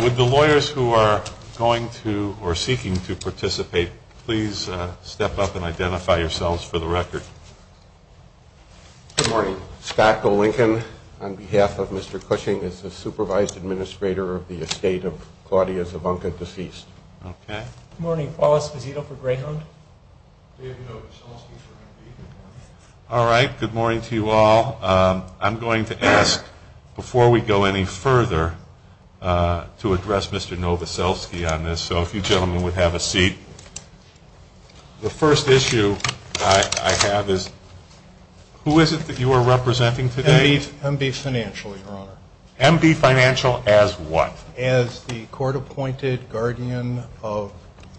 With the lawyers who are going to, or seeking to participate, please step up and identify yourselves for the record. Good morning. Scott Golinkin, on behalf of Mr. Cushing, is the supervised administrator of the estate of Claudia Zabunka, deceased. Okay. Good morning. Paulus Dezito for Greyhound. All right. Good morning to you all. I'm going to ask, before we go any further, to address Mr. Novoselsky on this. So if you gentlemen would have a seat. The first issue I have is, who is it that you are representing today? M.B. Financial, Your Honor. M.B. Financial as what? As the court-appointed guardian of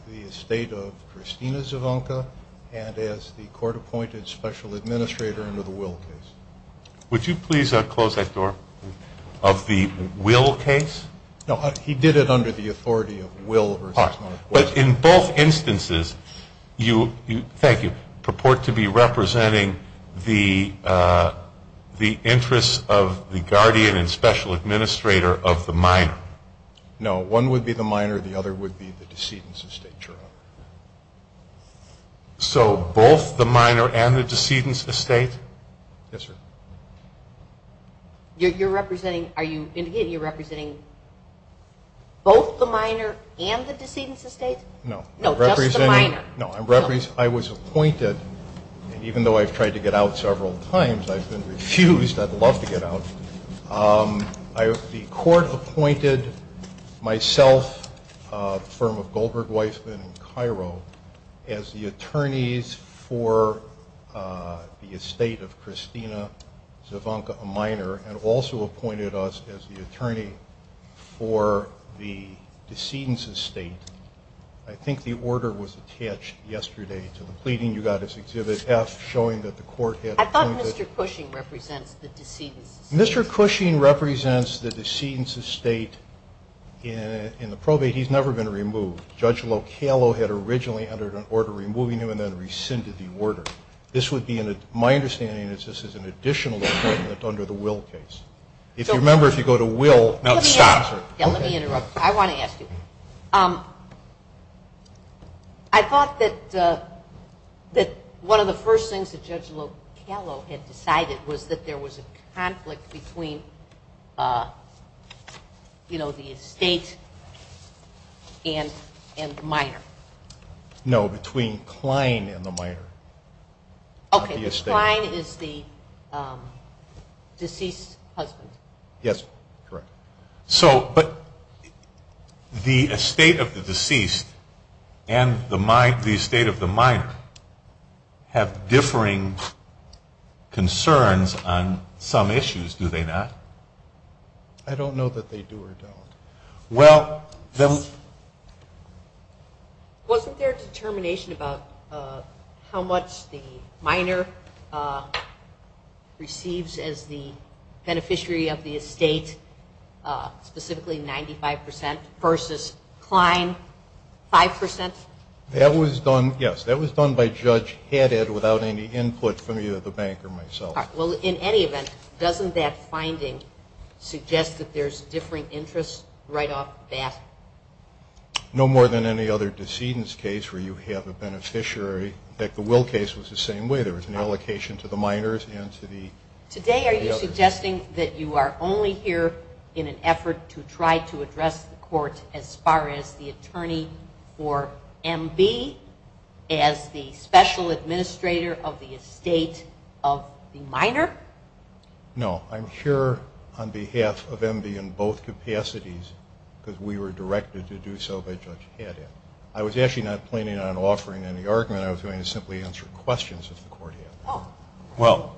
the estate of Christina Zabunka, and as the court-appointed special administrator under the Will case. Would you please close that door? Of the Will case? No, he did it under the authority of Will. But in both instances, you purport to be representing the interests of the guardian and special administrator of the minor? No, one would be the minor, the other would be the decedent's estate. So both the minor and the decedent's estate? Yes, sir. You're representing both the minor and the decedent's estate? No, I was appointed, even though I've tried to get out several times, I've been refused. I'd love to get out. The court appointed myself, a firm of Goldberg Weiss in Cairo, as the attorneys for the estate of Christina Zabunka, a minor, and also appointed us as the attorney for the decedent's estate. I think the order was attached yesterday to the pleading you got as Exhibit F, showing that the court had- I thought Mr. Cushing represents the decedent's estate. Mr. Cushing represents the decedent's estate. In the probate, he's never been removed. Judge Localo had originally entered an order removing him and then rescinded the order. This would be, in my understanding, an additional amendment under the Will case. If you remember, if you go to Will- Let me ask you. I want to ask you. I thought that one of the first things that Judge Localo had decided was that there was a conflict between the estate and the minor. No, between Klein and the minor. Okay, so Klein is the deceased husband. Yes, correct. But the estate of the deceased and the estate of the minor have differing concerns on some issues, do they not? I don't know that they do or don't. Well, then- Wasn't there determination about how much the minor receives as the beneficiary of the estate, specifically 95% versus Klein, 5%? That was done, yes. That was done by Judge Haddad without any input from either the bank or myself. Well, in any event, doesn't that finding suggest that there's differing interests right off the bat? No more than any other decedent's case where you have a beneficiary. In fact, the Will case was the same way. There was an allocation to the minors and to the- Today, are you suggesting that you are only here in an effort to try to address the court as far as the attorney for MB as the special administrator of the estate of the minor? No, I'm here on behalf of MB in both capacities because we were directed to do so by Judge Haddad. I was actually not planning on offering any argument. I was going to simply answer questions that the court had. Well,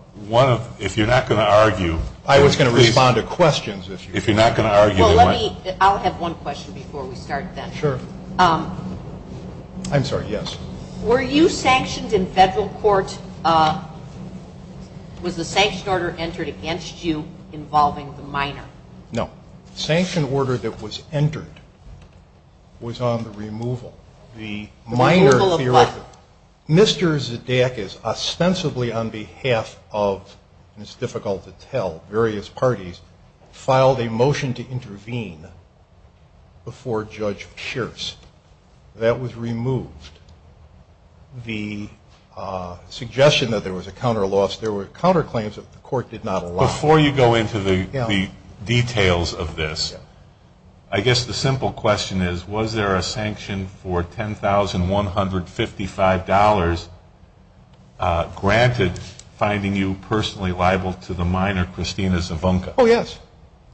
if you're not going to argue- I was going to respond to questions. If you're not going to argue- I'll have one question before we start then. Sure. I'm sorry, yes. Were you sanctioned in federal court? Was the sanctioned order entered against you involving the minor? No. The minor- The removal of what? Mr. Zedack is ostensibly on behalf of, and it's difficult to tell, various parties, filed a motion to intervene before Judge Scherz. That was removed. The suggestion that there was a counter-loss, there were counterclaims that the court did not allow. Before you go into the details of this, I guess the simple question is, was there a sanction for $10,155 granted finding you personally liable to the minor, Christina Zavonka? Oh, yes.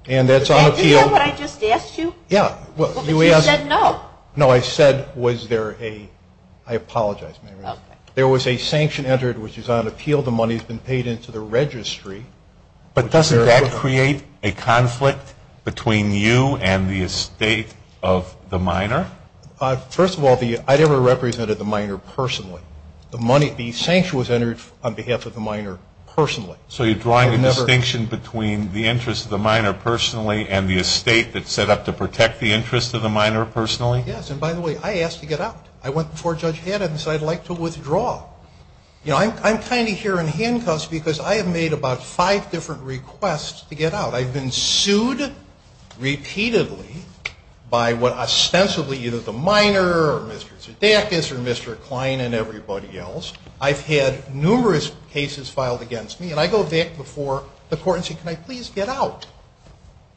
And that's on appeal- Did you know what I just asked you? Yeah. Well, but you said no. No, I said was there a- I apologize, Mary. There was a sanction entered which is on appeal. The money has been paid into the registry. But doesn't that create a conflict between you and the estate of the minor? First of all, I never represented the minor personally. The money- the sanction was entered on behalf of the minor personally. So you're drawing a distinction between the interest of the minor personally and the estate that's set up to protect the interest of the minor personally? Yes, and by the way, I asked to get out. You know, I'm kind of here in handcuffs because I have made about five different requests to get out. I've been sued repeatedly by what ostensibly either the minor or Mr. Zafis or Mr. Klein and everybody else. I've had numerous cases filed against me. And I go back before the court and say, can I please get out?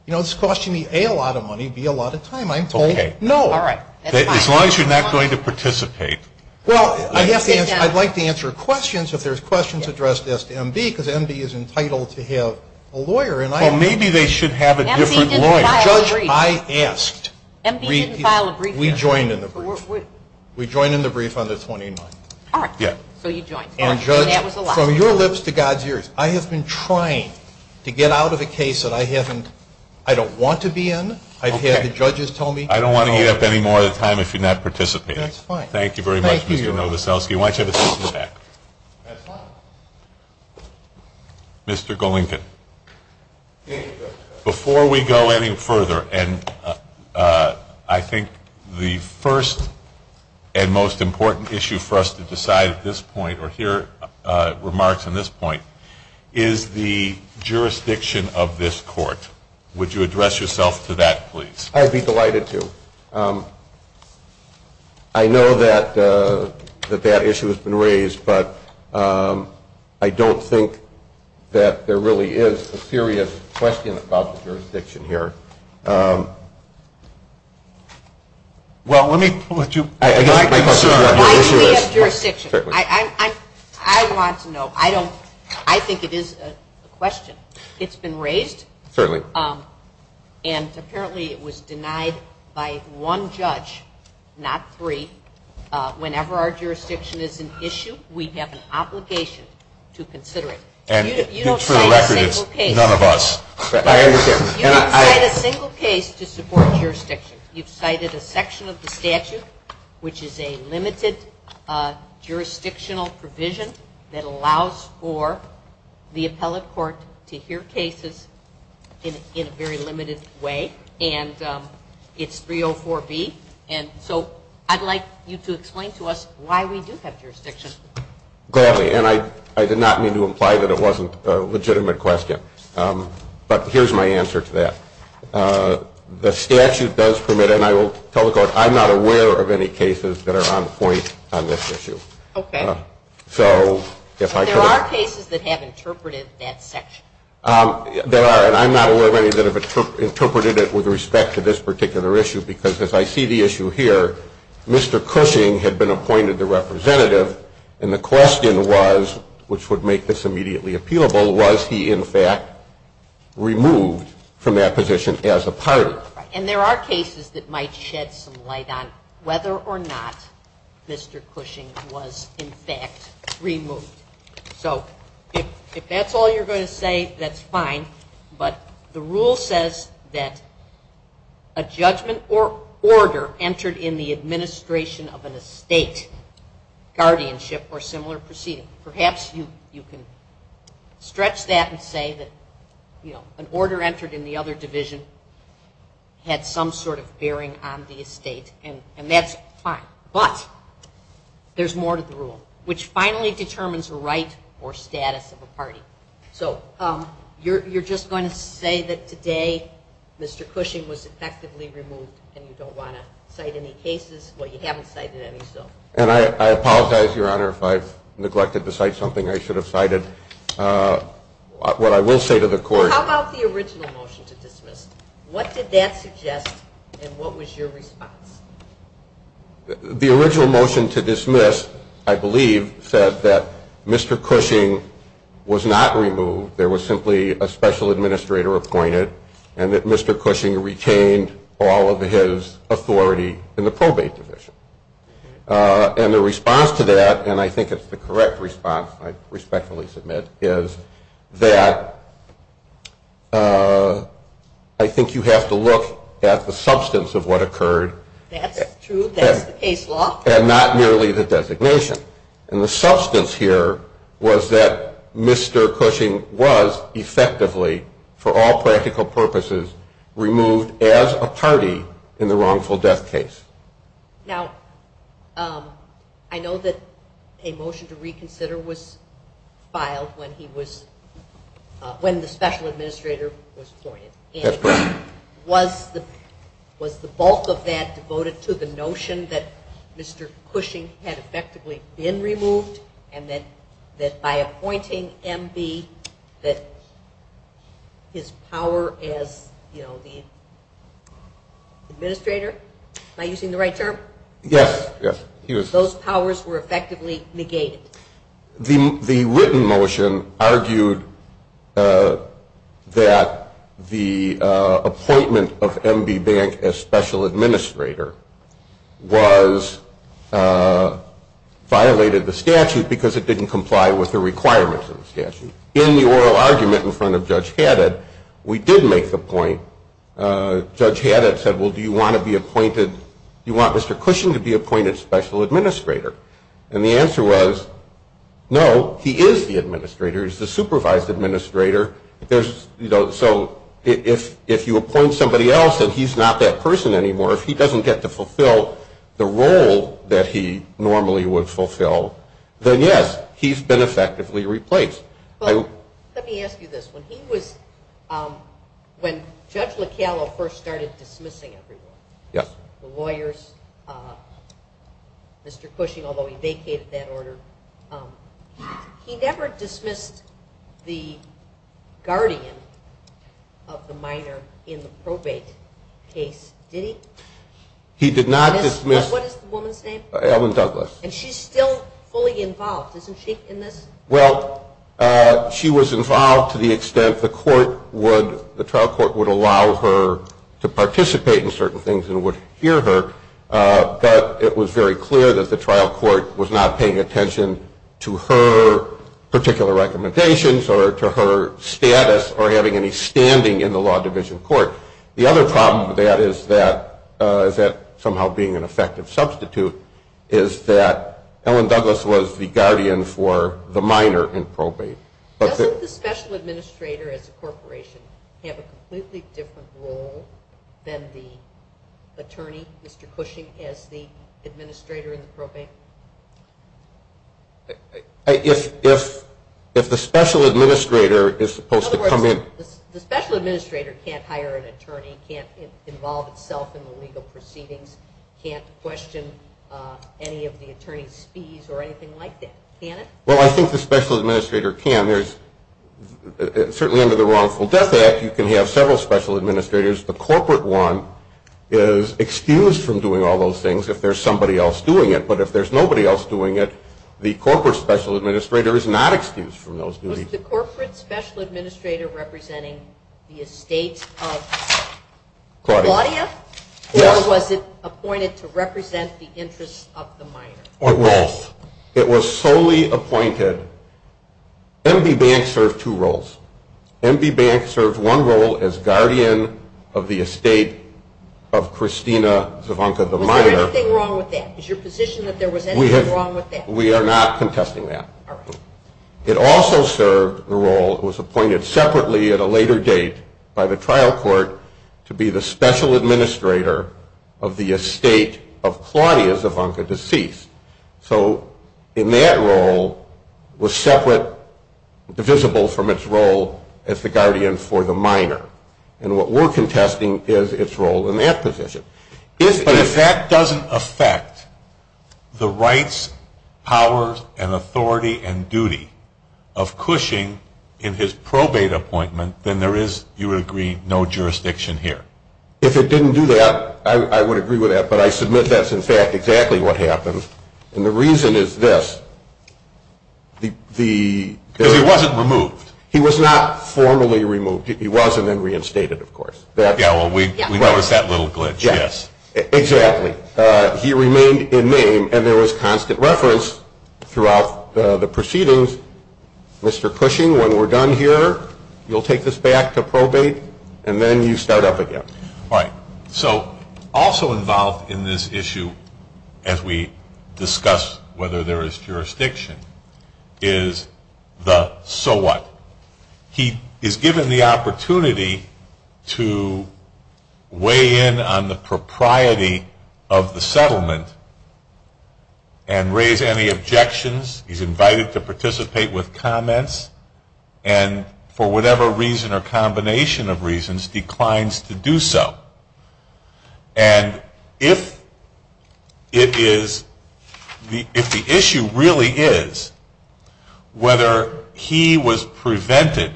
You know, it's costing me, A, a lot of money, B, a lot of time. I'm told no. Okay. All right. As long as you're not going to participate. Well, I'd like to answer questions if there's questions addressed to MB, because MB is entitled to have a lawyer. Well, maybe they should have a different lawyer. MB didn't file a brief. Judge, I asked. MB didn't file a brief. We joined in the brief. We joined in the brief on the 29th. All right. So you joined. And Judge, from your lips to God's ears, I have been trying to get out of a case that I haven't- I don't want to be in. I've had the judges tell me- I don't want to give up any more time if you're not participating. That's fine. Thank you very much, Mr. Novoselsky. Why don't you have a seat in the back? That's fine. Mr. Golinkin, before we go any further, and I think the first and most important issue for us to decide at this point or hear remarks on this point is the jurisdiction of this court. Would you address yourself to that, please? I'd be delighted to. Thank you, Mr. Golinkin. I know that that issue has been raised, but I don't think that there really is a serious question about the jurisdiction here. Well, let me point you- My issue is jurisdiction. I want to know. I don't- I think it is a question. It's been raised. Certainly. And apparently it was denied by one judge, not three. Whenever our jurisdiction is an issue, we have an obligation to consider it. And you don't write a single case- For the record, it's none of us. You don't write a single case to support jurisdiction. You've cited a section of the statute, which is a limited jurisdictional provision that allows for the appellate court to hear cases in a very limited way. And it's 304B. And so I'd like you to explain to us why we do have jurisdiction. Gladly. And I did not mean to imply that it wasn't a legitimate question. But here's my answer to that. The statute does permit, and I will tell the court I'm not aware of any cases that are on point on this issue. Okay. So if I could- There are cases that have interpreted that section. There are, and I'm not aware of any that have interpreted it with respect to this particular issue, because as I see the issue here, Mr. Cushing had been appointed the representative, and the question was, which would make this immediately appealable, was he in fact removed from that position as a party? And there are cases that might shed some light on whether or not Mr. Cushing was in fact removed. So if that's all you're going to say, that's fine. But the rule says that a judgment or order entered in the administration of an estate guardianship or similar proceeding. Perhaps you can stretch that and say that an order entered in the other division had some sort of bearing on the estate, and that's fine. But there's more to the rule, which finally determines the rights or status of a party. So you're just going to say that today Mr. Cushing was effectively removed, and you don't want to cite any cases? Well, you haven't cited any still. And I apologize, Your Honor, if I've neglected to cite something I should have cited. What I will say to the court… How about the original motion to dismiss? What did that suggest, and what was your response? The original motion to dismiss, I believe, said that Mr. Cushing was not removed. There was simply a special administrator appointed, and that Mr. Cushing retained all of his authority in the probate division. And the response to that, and I think it's the correct response, I respectfully submit, is that I think you have to look at the substance of what occurred. That's true. That's the case law. And not merely the designation. And the substance here was that Mr. Cushing was effectively, for all practical purposes, removed as a party in the wrongful death case. Now, I know that a motion to reconsider was filed when the special administrator was appointed. And was the bulk of that devoted to the notion that Mr. Cushing had effectively been removed, and that by appointing M.B. that his power as the administrator, am I using the right term? Yes. Those powers were effectively negated. The written motion argued that the appointment of M.B. Bank as special administrator was violated the statute because it didn't comply with the requirements of the statute. In the oral argument in front of Judge Haddett, we did make the point. Judge Haddett said, well, do you want Mr. Cushing to be appointed special administrator? And the answer was, no, he is the administrator. He's the supervised administrator. So if you appoint somebody else and he's not that person anymore, if he doesn't get to fulfill the role that he normally would fulfill, then yes, he's been effectively replaced. Let me ask you this. When Judge Lockello first started dismissing everyone, the lawyers, Mr. Cushing, although he vacated that order, he never dismissed the guardian of the minor in the probated case, did he? He did not dismiss. What is the woman's name? Ellen Douglas. And she's still fully involved. Isn't she in this? Well, she was involved to the extent the trial court would allow her to participate in certain things and would hear her, but it was very clear that the trial court was not paying attention to her particular recommendations or to her status or having any standing in the law division court. The other problem with that is that somehow being an effective substitute is that Doesn't the special administrator at the corporation have a completely different role than the attorney, Mr. Cushing, as the administrator in the probate? If the special administrator is supposed to come in. The special administrator can't hire an attorney, can't involve himself in the legal proceedings, can't question any of the attorney's fees or anything like that, can it? Well, I think the special administrator can. Certainly under the wrongful death act you can have several special administrators. The corporate one is excused from doing all those things if there's somebody else doing it. But if there's nobody else doing it, the corporate special administrator is not excused from those duties. Was the corporate special administrator representing the estate of Claudia or was it appointed to represent the interests of the minor? It was solely appointed. Envy Bank served two roles. Envy Bank served one role as guardian of the estate of Christina Zavonka, the minor. Is there anything wrong with that? Is your position that there was anything wrong with that? We are not contesting that. It also served the role, it was appointed separately at a later date by the trial court, to be the special administrator of the estate of Claudia Zavonka, deceased. So in that role, it was separate, divisible from its role as the guardian for the minor. And what we're contesting is its role in that position. But if that doesn't affect the rights, powers, and authority and duty of Cushing in his probate appointment, then there is, you would agree, no jurisdiction here. If it didn't do that, I would agree with that, but I submit that's, in fact, exactly what happened. And the reason is this. Because he wasn't removed. He was not formally removed. He wasn't reinstated, of course. Yeah, well, we noticed that little glitch, yes. Exactly. He remained in name, and there was constant reference throughout the proceedings, Mr. Cushing, when we're done here, you'll take this back to probate, and then you start up again. Right. So also involved in this issue, as we discuss whether there is jurisdiction, is the so what. He is given the opportunity to weigh in on the propriety of the settlement and raise any objections. He's invited to participate with comments and, for whatever reason or combination of reasons, declines to do so. And if the issue really is whether he was prevented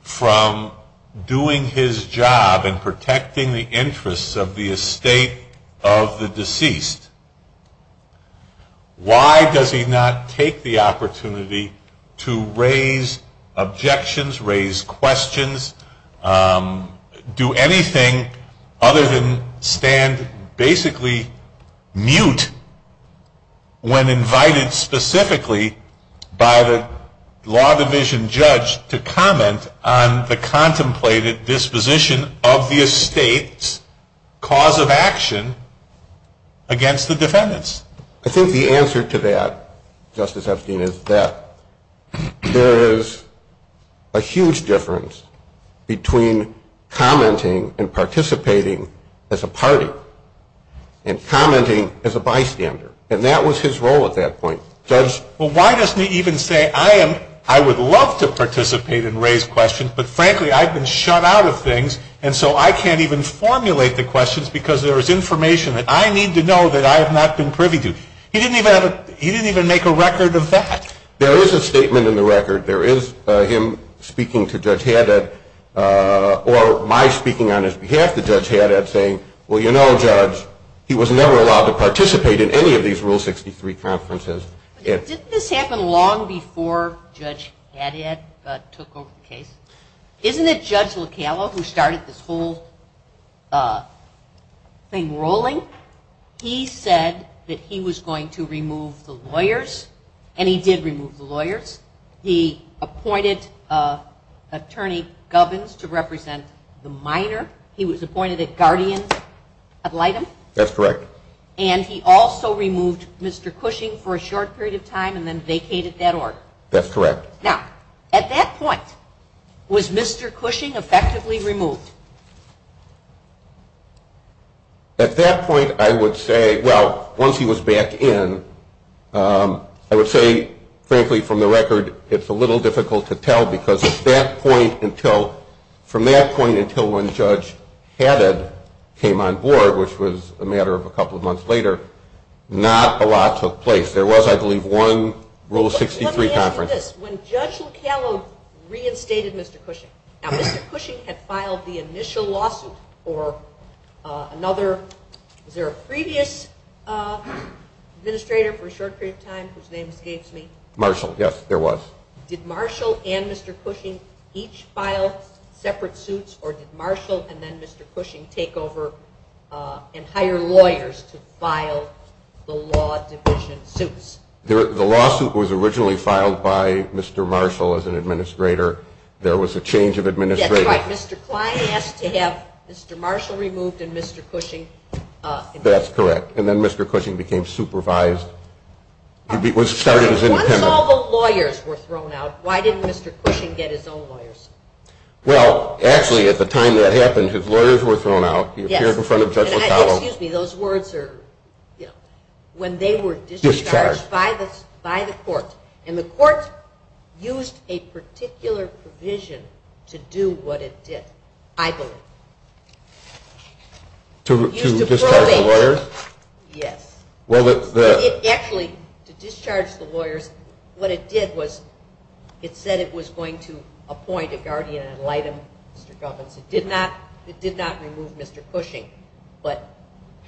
from doing his job and protecting the interests of the estate of the deceased, why does he not take the opportunity to raise objections, raise questions, do anything other than stand basically mute when invited specifically by the law division judge to comment on the contemplated disposition of the estate's cause of action against the defendants? I think the answer to that, Justice Epstein, is that there is a huge difference between commenting and participating as a party and commenting as a bystander, and that was his role at that point. Well, why doesn't he even say, I would love to participate and raise questions, but frankly I've been shut out of things and so I can't even formulate the questions because there is information that I need to know that I have not been privy to. He didn't even make a record of that. There is a statement in the record. There is him speaking to Judge Haddad, or my speaking on his behalf to Judge Haddad, saying, well, you know, Judge, he was never allowed to participate in any of these Rule 63 conferences. Didn't this happen long before Judge Haddad took over the case? Isn't it Judge Locamo who started this whole thing rolling? He said that he was going to remove the lawyers, and he did remove the lawyers. He appointed Attorney Govins to represent the minor. He was appointed a guardian ad litem. That's correct. And he also removed Mr. Cushing for a short period of time and then vacated that order. That's correct. Now, at that point, was Mr. Cushing effectively removed? At that point I would say, well, once he was back in, I would say, frankly, from the record, it's a little difficult to tell because from that point until when Judge Haddad came on board, which was a matter of a couple of months later, not a lot took place. There was, I believe, one Rule 63 conference. Let me ask you this. When Judge Locamo reinstated Mr. Cushing, now Mr. Cushing had filed the initial lawsuit for another, was there a previous administrator for a short period of time whose name escapes me? Marshall. Yes, there was. Did Marshall and Mr. Cushing each file separate suits, or did Marshall and then Mr. Cushing take over and hire lawyers to file the lawsuit? The lawsuit was originally filed by Mr. Marshall as an administrator. There was a change of administrator. That's right. Mr. Klein has to have Mr. Marshall removed and Mr. Cushing. That's correct. And then Mr. Cushing became supervised. One of all the lawyers were thrown out. Why didn't Mr. Cushing get his own lawyers? Well, actually, at the time that it happened, his lawyers were thrown out. He appeared in front of Judge Locamo. Excuse me. Those words are, you know, when they were discharged by the courts, and the courts used a particular provision to do what it did, I believe. To discharge the lawyers? Yes. Actually, to discharge the lawyers, what it did was it said it was going to appoint a guardian ad litem to the government. It did not remove Mr. Cushing, but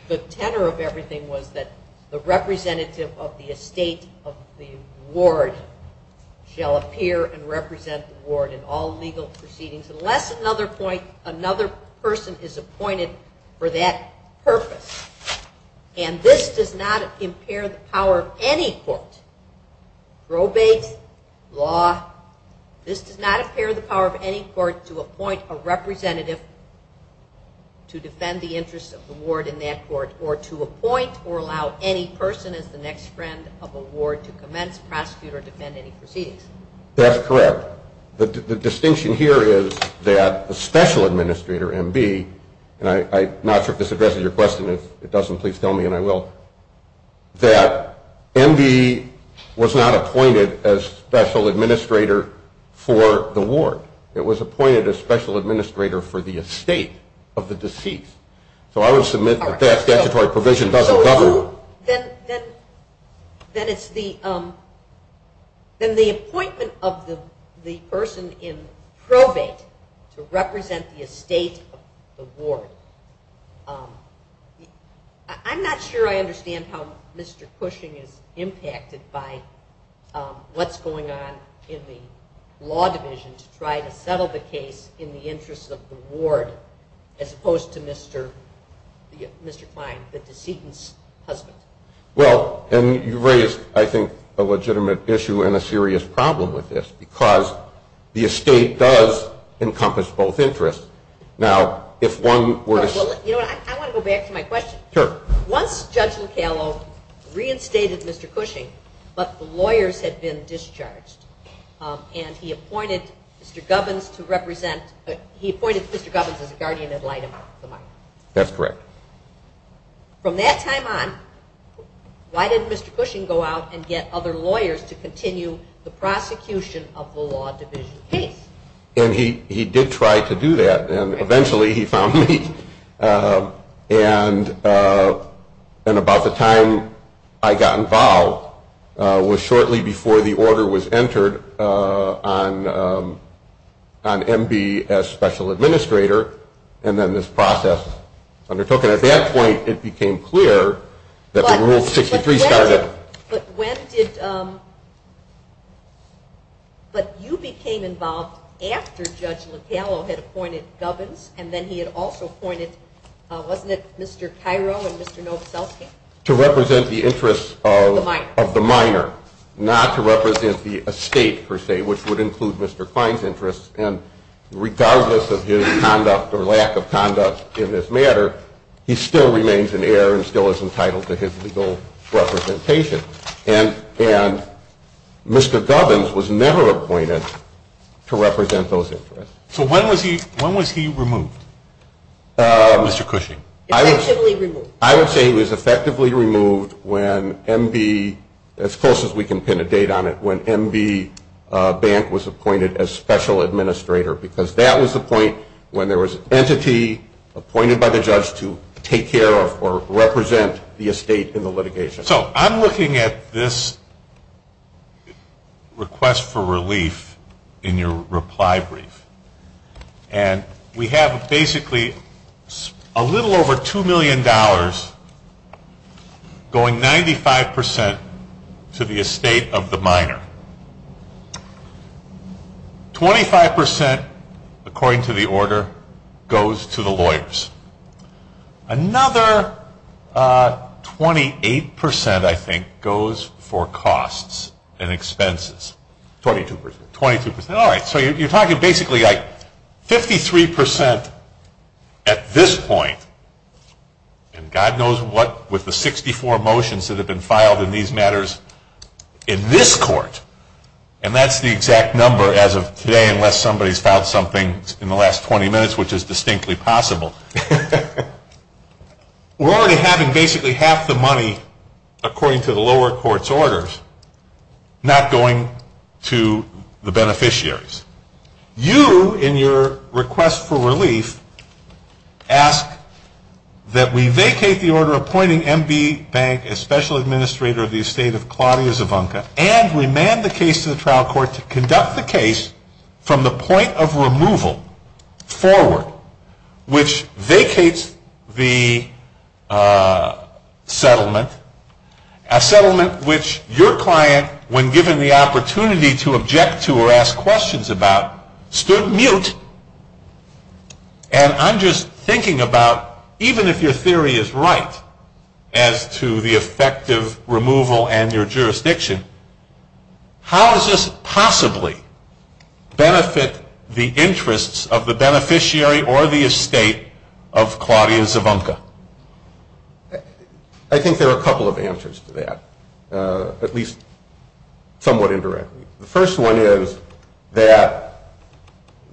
the tenor of everything was that the representative of the estate of the ward shall appear and represent the ward in all legal proceedings, unless another person is appointed for that purpose. And this does not impair the power of any court. Probate, law, this does not impair the power of any court to appoint a representative to defend the interest of the ward in that court, or to appoint or allow any person as the next friend of the ward to commence, prosecute, or defend any proceedings. That's correct. The distinction here is that a special administrator, MB, and I'm not sure if this addresses your question. If it doesn't, please tell me and I will. That MB was not appointed as special administrator for the ward. It was appointed as special administrator for the estate of the deceased. So I would submit that that statutory provision doesn't govern. Oh, then it's the appointment of the person in probate to represent the estate of the ward. I'm not sure I understand how Mr. Cushing is impacted by what's going on in the law divisions trying to settle the case in the interest of the ward, as opposed to Mr. Kline, the decedent's husband. Well, and you raise, I think, a legitimate issue and a serious problem with this, because the estate does encompass both interests. Now, if one were to say- You know what? I want to go back to my question. Sure. Once Judge Locallo reinstated Mr. Cushing, but the lawyers had been discharged, and he appointed Mr. Gubbins as the guardian ad litem. That's correct. From that time on, why didn't Mr. Cushing go out and get other lawyers to continue the prosecution of the law division case? And he did try to do that, and eventually he found me. And about the time I got involved was shortly before the order was entered on MB as special administrator, and then this process undertook. And at that point it became clear that the Rule 63 started. But you became involved after Judge Locallo had appointed Gubbins, and then he had also appointed, wasn't it Mr. Tyrone and Mr. Novoselic? To represent the interests of the minor, not to represent the estate, per se, which would include Mr. Klein's interests. And regardless of his conduct or lack of conduct in this matter, he still remains an heir and still is entitled to his legal representation. And Mr. Gubbins was never appointed to represent those interests. So when was he removed, Mr. Cushing? I would say he was effectively removed when MB, as close as we can pin a date on it, when MB Bank was appointed as special administrator, because that was the point when there was an entity appointed by the judge to take care of or represent the estate in the litigation. So I'm looking at this request for relief in your reply brief. And we have basically a little over $2 million going 95% to the estate of the minor. 25%, according to the order, goes to the lawyers. Another 28%, I think, goes for costs and expenses. 22%. All right, so you're talking basically 53% at this point, and God knows what with the 64 motions that have been filed in these matters in this court, and that's the exact number as of today unless somebody's filed something in the last 20 minutes, which is distinctly possible. We're already having basically half the money, according to the lower court's orders, not going to the beneficiaries. You, in your request for relief, ask that we vacate the order appointing MB Bank as special administrator of the estate of Claudia Zabunka and remand the case to the trial court to conduct the case from the point of removal forward, which vacates the settlement, a settlement which your client, when given the opportunity to object to or ask questions about, stood mute, and I'm just thinking about even if your theory is right as to the effective removal and your jurisdiction, how does this possibly benefit the interests of the beneficiary or the estate of Claudia Zabunka? I think there are a couple of answers to that, at least somewhat indirectly. The first one is that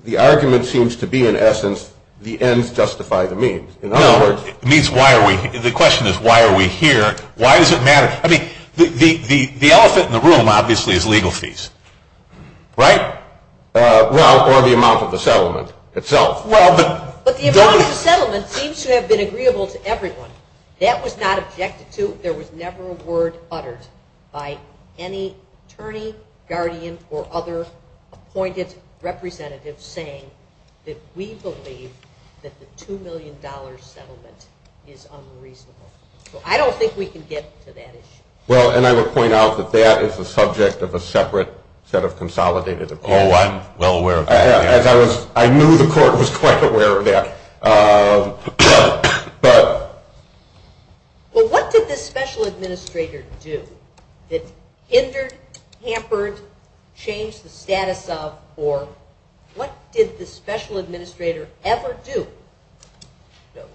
the argument seems to be, in essence, the ends justify the means. The question is, why are we here? Why does it matter? I mean, the elephant in the room, obviously, is legal fees, right? Well, or the amount of the settlement itself. But the amount of the settlement seems to have been agreeable to everyone. That was not objected to. There was never a word uttered by any attorney, guardian, or other appointed representative saying that we believe that the $2 million settlement is unreasonable. I don't think we can get to that issue. Well, and I would point out that that is the subject of a separate set of consolidated accounts. Oh, I'm well aware of that. I knew the court was quite aware of that. Well, what did this special administrator do? It hindered, tampered, changed the status of, or what did this special administrator ever do?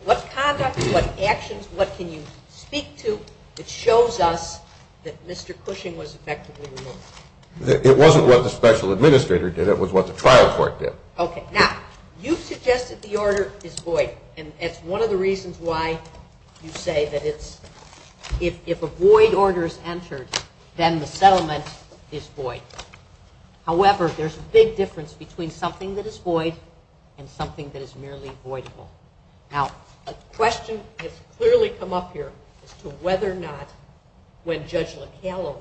What conduct, what actions, what can you speak to that shows us that Mr. Cushing was effectively removed? It wasn't what the special administrator did. It was what the trial court did. Okay. Now, you suggest that the order is void. And it's one of the reasons why you say that if a void order is entered, then the settlement is void. However, there's a big difference between something that is void and something that is merely void. Now, a question has clearly come up here as to whether or not when Judge Locallo,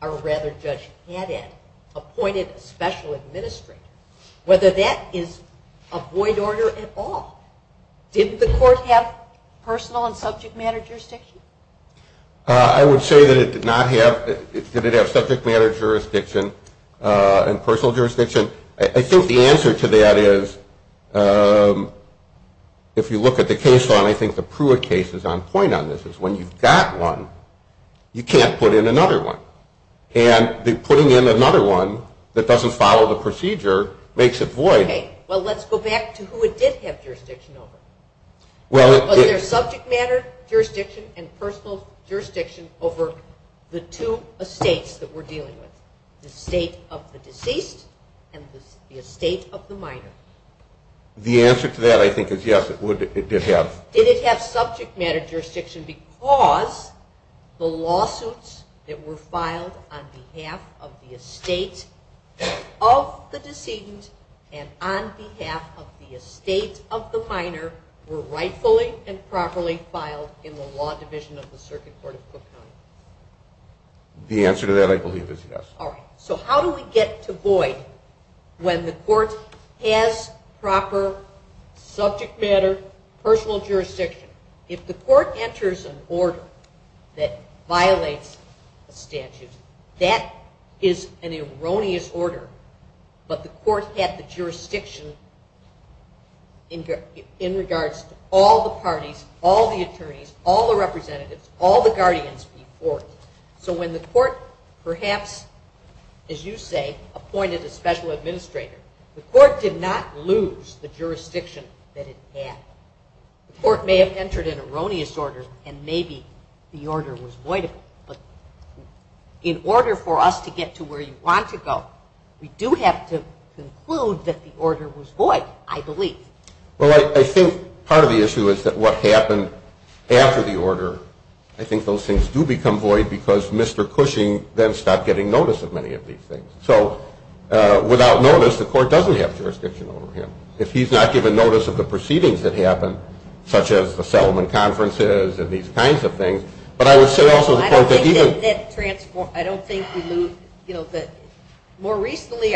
or rather Judge Cadet, appointed a special administrator, whether that is a void order at all. Didn't the court have personal and subject matter jurisdiction? I would say that it did not have. Did it have subject matter jurisdiction and personal jurisdiction? I think the answer to that is, if you look at the case law, and I think the Pruitt case is on point on this, is when you've got one, you can't put in another one. And putting in another one that doesn't follow the procedure makes it void. Okay. Well, let's go back to who it did have jurisdiction over. Was there subject matter jurisdiction and personal jurisdiction over the two estates that we're dealing with, the estate of the deceased and the estate of the minor? The answer to that, I think, is yes, it did have. Did it have subject matter jurisdiction because the lawsuits that were filed on behalf of the estate of the deceased and on behalf of the estate of the minor were rightfully and properly filed in the law division of the circuit court of Brooklyn? The answer to that, I believe, is yes. All right. So how do we get to void when the court has proper subject matter, personal jurisdiction? If the court enters an order that violates a statute, that is an erroneous order, but the court has the jurisdiction in regards to all the parties, all the attorneys, all the representatives, all the guardians of the court. So when the court perhaps, as you say, appointed a special administrator, the court did not lose the jurisdiction that it had. The court may have entered an erroneous order and maybe the order was voidable, but in order for us to get to where you want to go, we do have to conclude that the order was void, I believe. Well, I think part of the issue is that what happened after the order, I think those things do become void because Mr. Cushing then stopped getting notice of many of these things. So without notice, the court doesn't have jurisdiction over him. If he's not given notice of the proceedings that happened, such as the settlement conferences and these kinds of things, but I would say also the court that even- I don't think that that's transformed. I don't think we lose, you know, that more recently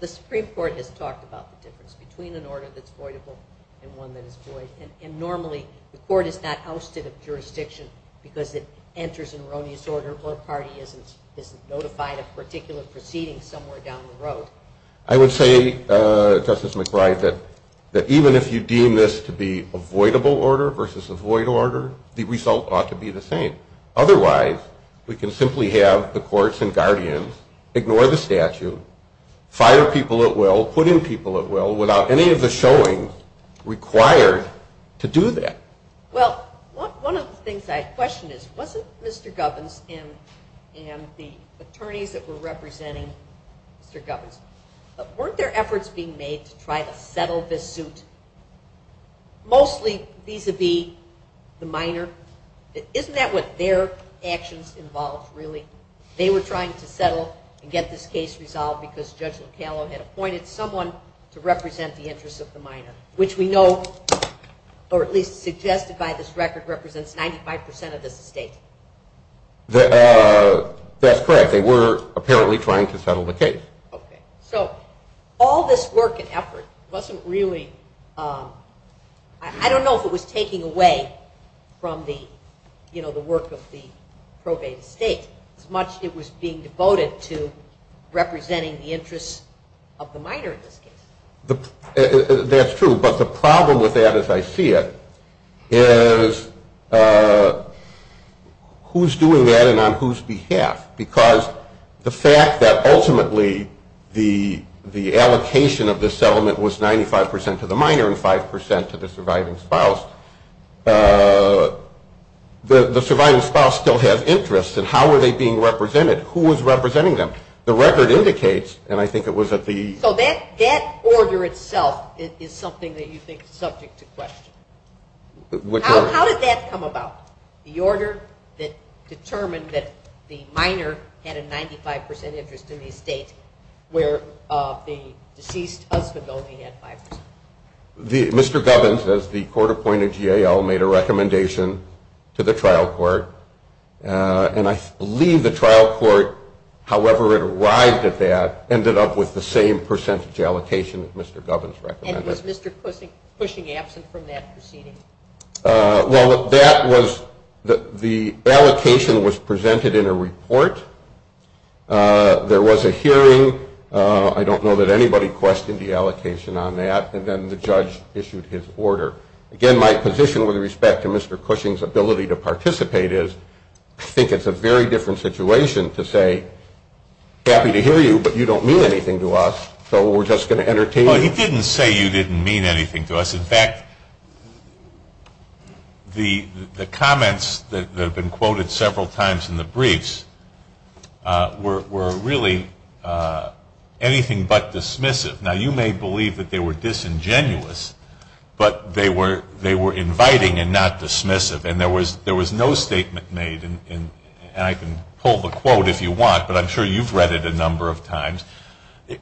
the Supreme Court has talked about the difference between an order that's voidable and one that is void, and normally the court is not ousted of jurisdiction because it enters an erroneous order or the party isn't notified of a particular proceeding somewhere down the road. I would say, Justice McBride, that even if you deem this to be a voidable order versus a void order, the result ought to be the same. Otherwise, we can simply have the courts and guardians ignore the statute, fire people at will, Well, one of the things I question is, wasn't Mr. Govins and the attorneys that were representing Mr. Govins, weren't there efforts being made to try to settle this suit mostly vis-a-vis the minor? Isn't that what their actions involved, really? They were trying to settle and get this case resolved because Judge McCallum had appointed someone to represent the interests of the minor, which we know, or at least suggested by this record, represents 95% of the state. That's correct. They were apparently trying to settle the case. Okay. So all this work and effort wasn't really, I don't know if it was taking away from the, you know, the work of the probate state as much as it was being devoted to representing the interests of the minor. That's true. But the problem with that, as I see it, is who's doing that and on whose behalf? Because the fact that ultimately the allocation of this settlement was 95% to the minor and 95% to the surviving spouse, the surviving spouse still had interests, and how were they being represented? Who was representing them? The record indicates, and I think it was at the... So that order itself is something that you think is subject to question. How did that come about, the order that determined that the minor had a 95% interest in the estate where the deceased husband only had 5%? Mr. Govins, as the court appointed GAO, made a recommendation to the trial court, and I believe the trial court, however it arrived at that, ended up with the same percentage allocation that Mr. Govins recommended. And was Mr. Cushing absent from that proceeding? There was a hearing. I don't know that anybody questioned the allocation on that, and then the judge issued his order. Again, my position with respect to Mr. Cushing's ability to participate is, I think it's a very different situation to say, happy to hear you, but you don't mean anything to us, so we're just going to entertain you. Well, he didn't say you didn't mean anything to us. In fact, the comments that have been quoted several times in the briefs were really anything but dismissive. Now, you may believe that they were disingenuous, but they were inviting and not dismissive, and there was no statement made, and I can pull the quote if you want, but I'm sure you've read it a number of times.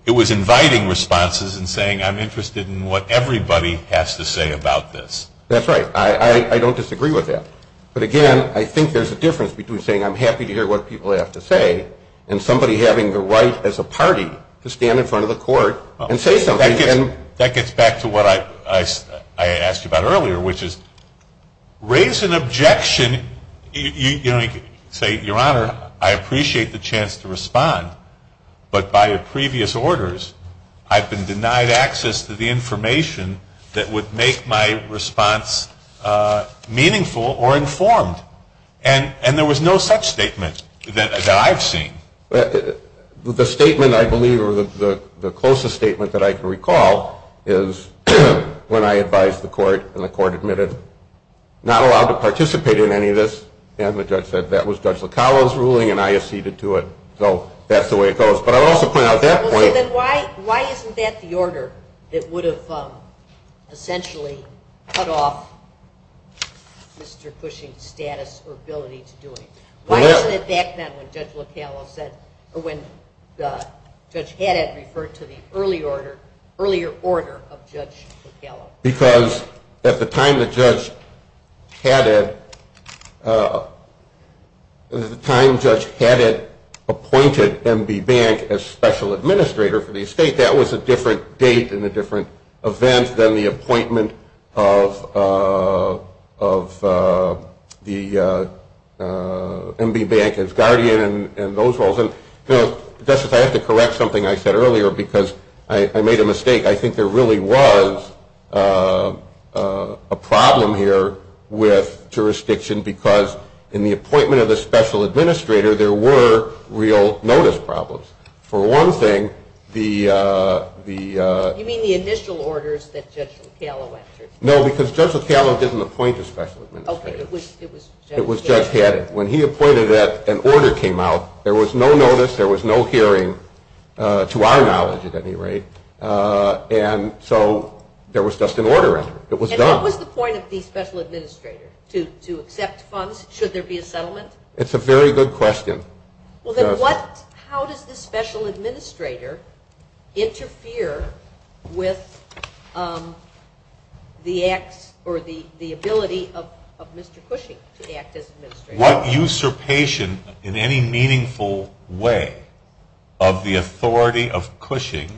It was inviting responses and saying, I'm interested in what everybody has to say about this. That's right. I don't disagree with that. But again, I think there's a difference between saying, I'm happy to hear what people have to say, and somebody having the right as a party to stand in front of the court and say something. That gets back to what I asked you about earlier, which is, raise an objection. You can only say, Your Honor, I appreciate the chance to respond, but by your previous orders, I've been denied access to the information that would make my response meaningful or informed, and there was no such statement that I've seen. The statement I believe, or the closest statement that I can recall, is when I advised the court and the court admitted not allowed to participate in any of this, and the judge said that was Judge Locallo's ruling and I acceded to it. So that's the way it goes. But I'd also point out that point. Why isn't that the order that would have essentially cut off Mr. Cushing's status or ability to do it? Why wasn't it back then when Judge Cadet referred to the earlier order of Judge Locallo? Because at the time that Judge Cadet appointed M.D. Bank as special administrator for the estate, I think that was a different date and a different event than the appointment of M.D. Bank as guardian and those roles. Justice, I have to correct something I said earlier because I made a mistake. I think there really was a problem here with jurisdiction because in the appointment of the special administrator, there were real notice problems. For one thing, the... You mean the initial orders that Judge Locallo answered? No, because Judge Locallo didn't appoint a special administrator. Okay, it was Judge Cadet. It was Judge Cadet. When he appointed it, an order came out. There was no notice. There was no hearing, to our knowledge at any rate, and so there was just an ordering. It was done. And what was the point of the special administrator? To accept funds? Should there be a settlement? It's a very good question. How does the special administrator interfere with the act or the ability of Mr. Cushing to act as administrator? What usurpation in any meaningful way of the authority of Cushing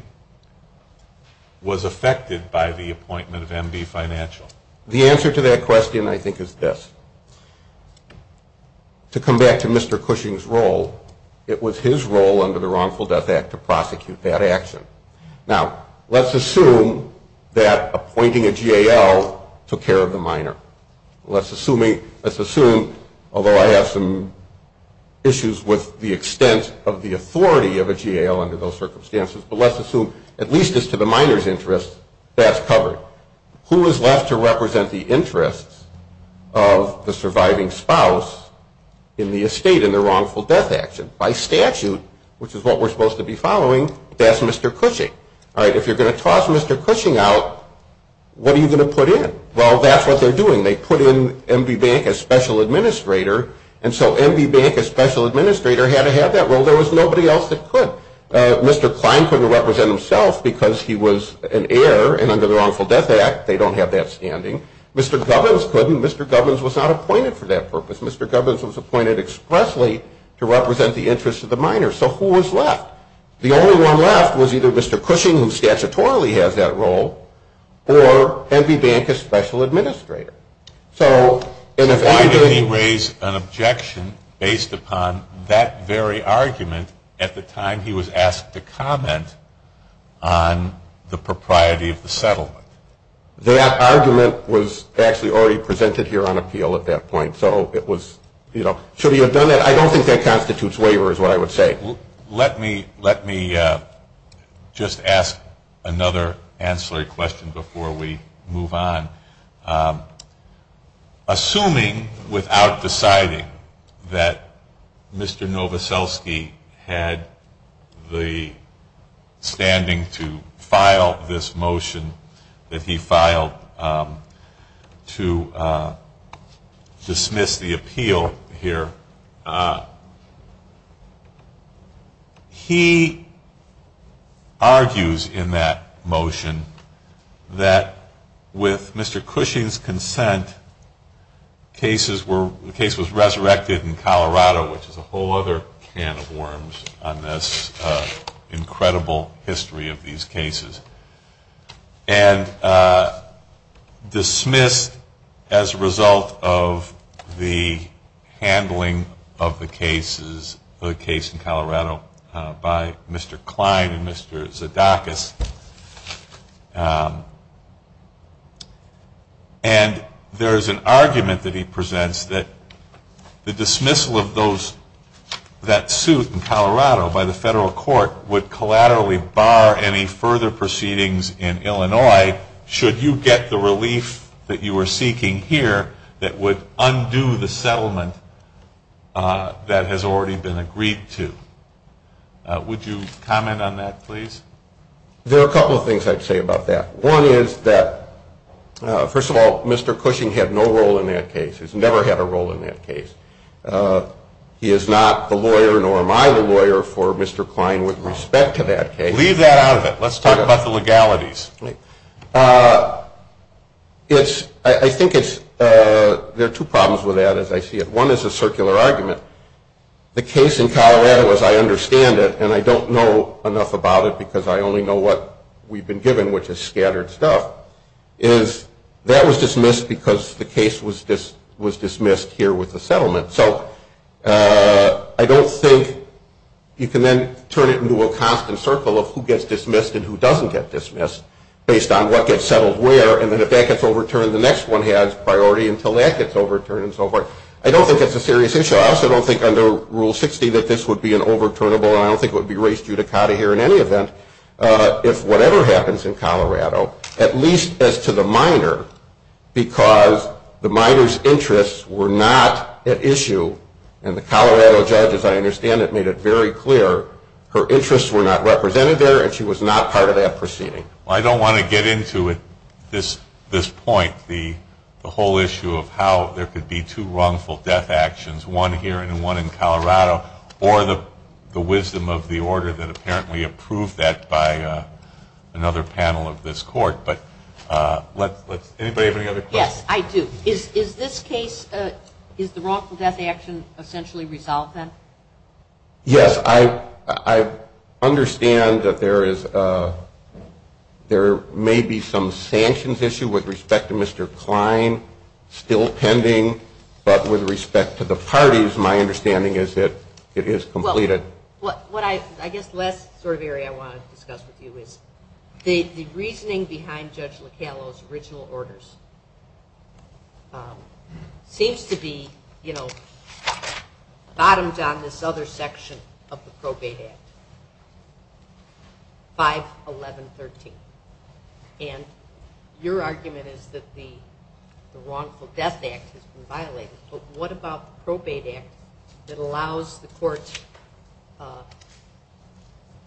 was affected by the appointment of M.D. Financial? The answer to that question, I think, is this. To come back to Mr. Cushing's role, it was his role under the Wrongful Death Act to prosecute that action. Now, let's assume that appointing a GAL took care of the minor. Let's assume, although I have some issues with the extent of the authority of a GAL under those circumstances, but let's assume, at least as to the minor's interest, that's covered. Who is left to represent the interest of the surviving spouse in the estate in the Wrongful Death Act? By statute, which is what we're supposed to be following, that's Mr. Cushing. If you're going to toss Mr. Cushing out, what are you going to put in? Well, that's what they're doing. They put in M.D. Bank as special administrator, and so M.D. Bank as special administrator had to have that role. There was nobody else that could. So Mr. Klein couldn't represent himself because he was an heir, and under the Wrongful Death Act, they don't have that standing. Mr. Govins couldn't. Mr. Govins was not appointed for that purpose. Mr. Govins was appointed expressly to represent the interest of the minor. So who was left? The only one left was either Mr. Cushing, who statutorily has that role, or M.D. Bank as special administrator. So why didn't he raise an objection based upon that very argument at the time he was asked to comment on the propriety of the settlement? That argument was actually already presented here on appeal at that point. So it was, you know, should he have done that? I don't think that constitutes waiver is what I would say. Let me just ask another ancillary question before we move on. Assuming without deciding that Mr. Novoselsky had the standing to file this motion that he filed to dismiss the appeal here, he argues in that motion that with Mr. Cushing's consent, the case was resurrected in Colorado, which is a whole other can of worms on this incredible history of these cases, and dismissed as a result of the handling of the case in Colorado by Mr. Klein and Mr. Zadakis. And there is an argument that he presents that the dismissal of that suit in Colorado by the federal court would collaterally bar any further proceedings in Illinois should you get the relief that you were seeking here that would undo the settlement that has already been agreed to. Would you comment on that, please? There are a couple of things I'd say about that. One is that, first of all, Mr. Cushing had no role in that case. He's never had a role in that case. He is not the lawyer, nor am I the lawyer, for Mr. Klein with respect to that case. Leave that out of it. Let's talk about the legalities. I think there are two problems with that, as I see it. One is the circular argument. The case in Colorado, as I understand it, and I don't know enough about it because I only know what we've been given, which is scattered stuff, is that was dismissed because the case was dismissed here with the settlement. So I don't think you can then turn it into a constant circle of who gets dismissed and who doesn't get dismissed based on what gets settled where, and then if that gets overturned, the next one has priority until that gets overturned and so forth. I don't think that's a serious issue. I also don't think under Rule 60 that this would be an overturnable, I don't think it would be raised judicata here in any event, if whatever happens in Colorado, at least as to the minor, because the minor's interests were not at issue, and the Colorado judge, as I understand it, made it very clear her interests were not represented there and she was not part of that proceeding. I don't want to get into this point, the whole issue of how there could be two wrongful death actions, one here and one in Colorado, or the wisdom of the order that apparently approved that by another panel of this court. But anybody have any other questions? Yes, I do. Is this case, is the wrongful death action essentially resolved then? Yes. I understand that there may be some sanctions issue with respect to Mr. Klein, still pending, but with respect to the parties, my understanding is that it is completed. I guess the last sort of area I want to discuss with you is the reasoning behind Judge Locallo's original orders seems to be, you know, bottoms on this other section of the probate act, 5113. And your argument is that the wrongful death act has been violated, but what about the probate act that allows the courts, I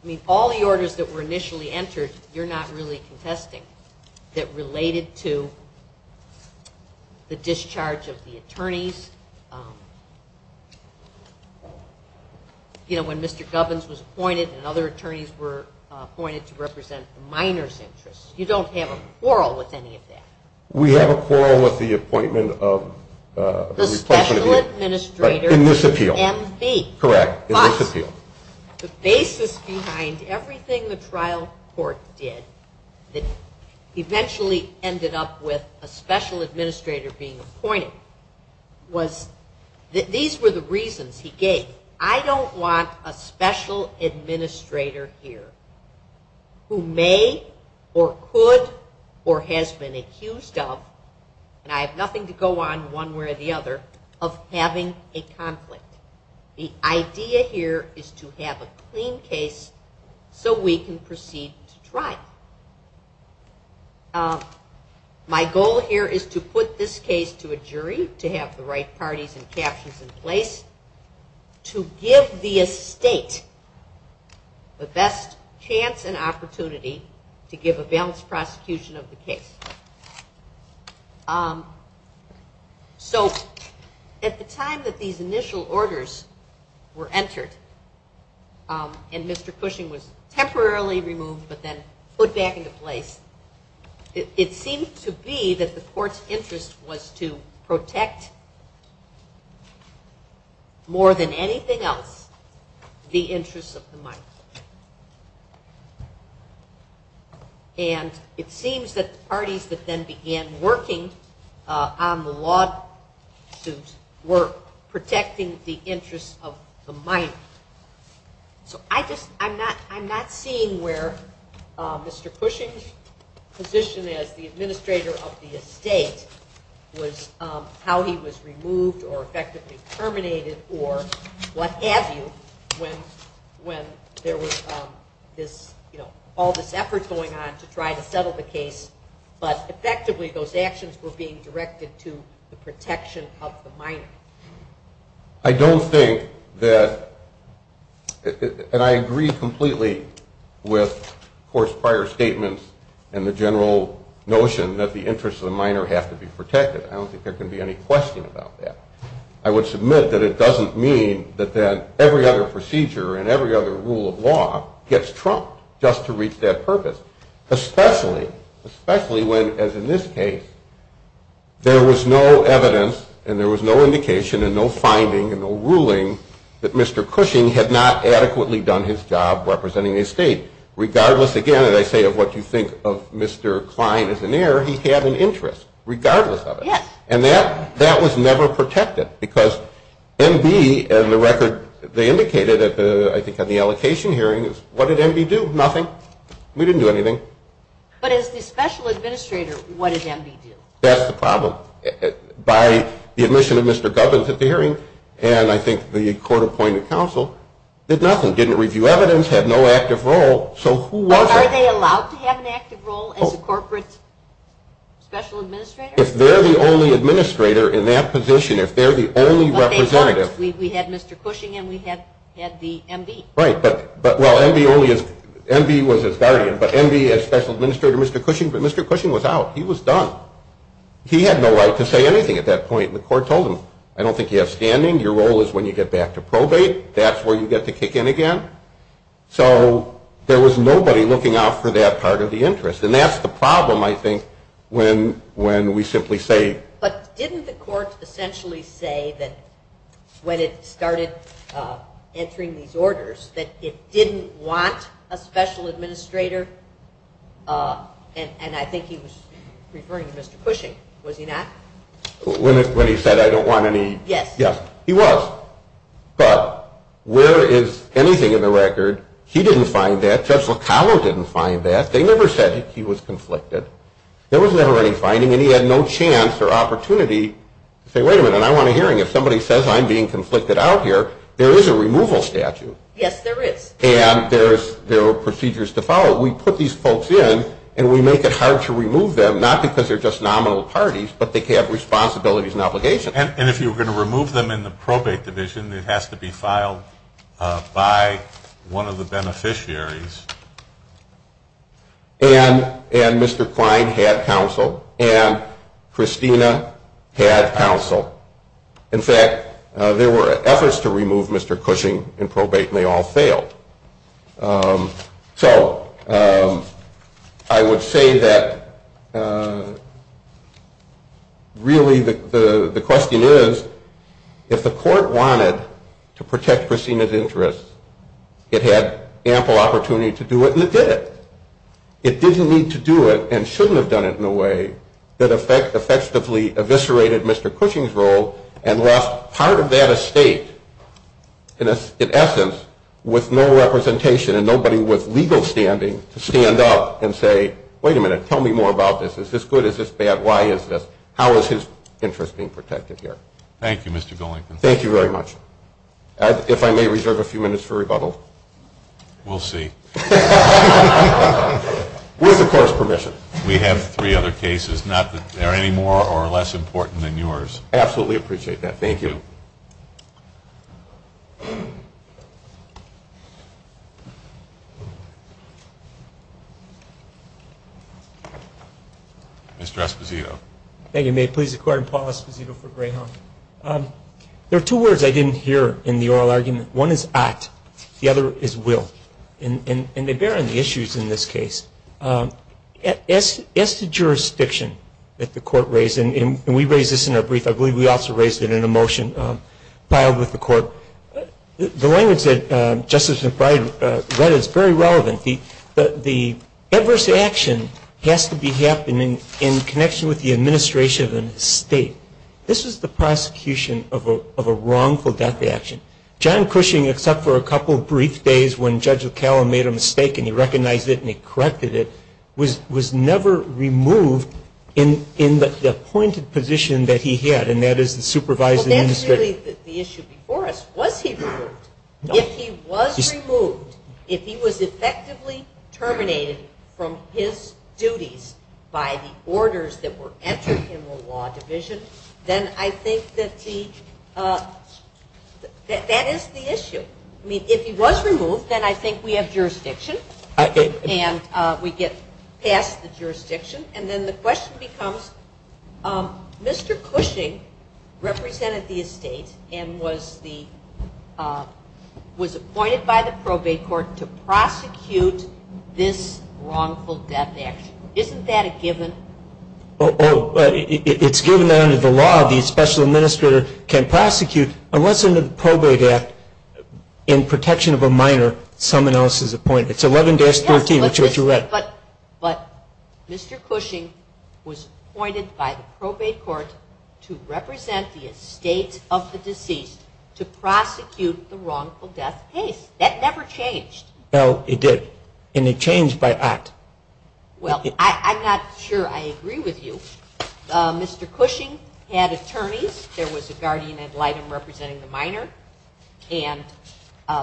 mean all the orders that were initially entered, you're not really contesting, that related to the discharge of the attorneys. You know, when Mr. Govins was appointed and other attorneys were appointed to represent the minor's interests. You don't have a quarrel with any of that. We have a quarrel with the appointment of the replacement. The special administrator. In this appeal. Correct. In this appeal. The basis behind everything the trial court did that eventually ended up with a special administrator being appointed was that these were the reasons he gave. I don't want a special administrator here who may or could or has been accused of, and I have nothing to go on one way or the other, of having a conflict. The idea here is to have a clean case so we can proceed to trial. My goal here is to put this case to a jury, to have the right parties and captions in place, to give the estate the best chance and opportunity to give a balanced prosecution of the case. So at the time that these initial orders were entered, and Mr. Cushing was temporarily removed, but then put back into place, it seems to be that the court's interest was to protect more than anything else the interests of the minor. And it seems that the parties that then began working on the lawsuit were protecting the interests of the minor. I'm not seeing where Mr. Cushing's position as the administrator of the estate was how he was removed or effectively terminated or what have you when there was all this effort going on to try to settle the case, but effectively those actions were being directed to the protection of the minor. I don't think that, and I agree completely with the court's prior statements and the general notion that the interests of the minor have to be protected. I don't think there can be any question about that. I would submit that it doesn't mean that every other procedure and every other rule of law gets trumped just to reach that purpose, especially when, as in this case, there was no evidence and there was no indication and no finding and no ruling that Mr. Cushing had not adequately done his job representing the estate. Regardless, again, as I say, of what you think of Mr. Klein as an heir, he had an interest regardless of it. And that was never protected because MB, as the record indicated, I think at the allocation hearing, what did MB do? Nothing. We didn't do anything. But as the special administrator, what did MB do? That's the problem. By the admission of Mr. Gov into the hearing, and I think the court appointed counsel, did nothing. Didn't review evidence, had no active role, so who was it? Are they allowed to have an active role as a corporate special administrator? If they're the only administrator in that position, if they're the only representative. We had Mr. Cushing and we had the MB. Right. But, well, MB only is, MB was his director, but MB as special administrator, Mr. Cushing was out. He was done. He had no right to say anything at that point, and the court told him, I don't think you have standing. Your role is when you get back to probate. That's where you get to kick in again. So there was nobody looking out for that part of the interest. And that's the problem, I think, when we simply say. But didn't the court essentially say that when it started entering these orders, that it didn't want a special administrator, and I think he was referring to Mr. Cushing, was he not? When he said, I don't want any. Yes. He was, but where is anything in the record? He didn't find that. Judge Locano didn't find that. They never said he was conflicted. There was never any finding, and he had no chance or opportunity to say, wait a minute, I want a hearing. If somebody says I'm being conflicted out here, there is a removal statute. Yes, there is. And there are procedures to follow. We put these folks in, and we make it hard to remove them, not because they're just nominal parties, but they have responsibilities and obligations. And if you're going to remove them in the probate division, it has to be filed by one of the beneficiaries. And Mr. Klein had counsel, and Christina had counsel. In fact, there were efforts to remove Mr. Cushing in probate, and they all failed. So I would say that really the question is, if the court wanted to protect Christina's interests, it had ample opportunity to do it, and it did it. It didn't need to do it and shouldn't have done it in a way that effectively eviscerated Mr. Cushing's role and left part of that estate, in essence, with no representation and nobody with legal standing to stand up and say, wait a minute, tell me more about this. Is this good? Is this bad? Why is this? How is his interest being protected here? Thank you, Mr. Golinkin. Thank you very much. If I may reserve a few minutes for rebuttal. We'll see. We have the court's permission. We have three other cases, not that they're any more or less important than yours. Absolutely appreciate that. Thank you. Mr. Esposito. Thank you. May it please the Court, I'm Paul Esposito for Greyhound. There are two words I didn't hear in the oral argument. One is ought. The other is will. And they bear on the issues in this case. As to jurisdiction that the court raised, and we raised this in our brief, I believe we also raised it in a motion filed with the court. The one is that, Justice McBride, what is very relevant, the adverse action has to be happening in connection with the administration of an estate. This is the prosecution of a wrongful death action. John Cushing, except for a couple of brief days when Judge O'Connell made a mistake and he recognized it and he corrected it, was never removed in the appointed position that he had, and that is the supervisor in the city. Well, that means that the issue before us, was he removed? If he was removed, if he was effectively terminated from his duties by the orders that were entered in the law division, then I think that that is the issue. I mean, if he was removed, then I think we have jurisdiction. And we get past the jurisdiction. And then the question becomes, Mr. Cushing represented the estate and was appointed by the probate court to prosecute this wrongful death action. Isn't that a given? Oh, it's given that under the law, the special administrator can prosecute, unless under the probate act, in protection of a minor, someone else is appointed. It's 11-14, which is what you read. But Mr. Cushing was appointed by the probate court to represent the estate of the deceased to prosecute the wrongful death case. That never changed. No, it did. And it changed by act. Well, I'm not sure I agree with you. Mr. Cushing had attorneys. There was a guardian ad litem representing the minor. And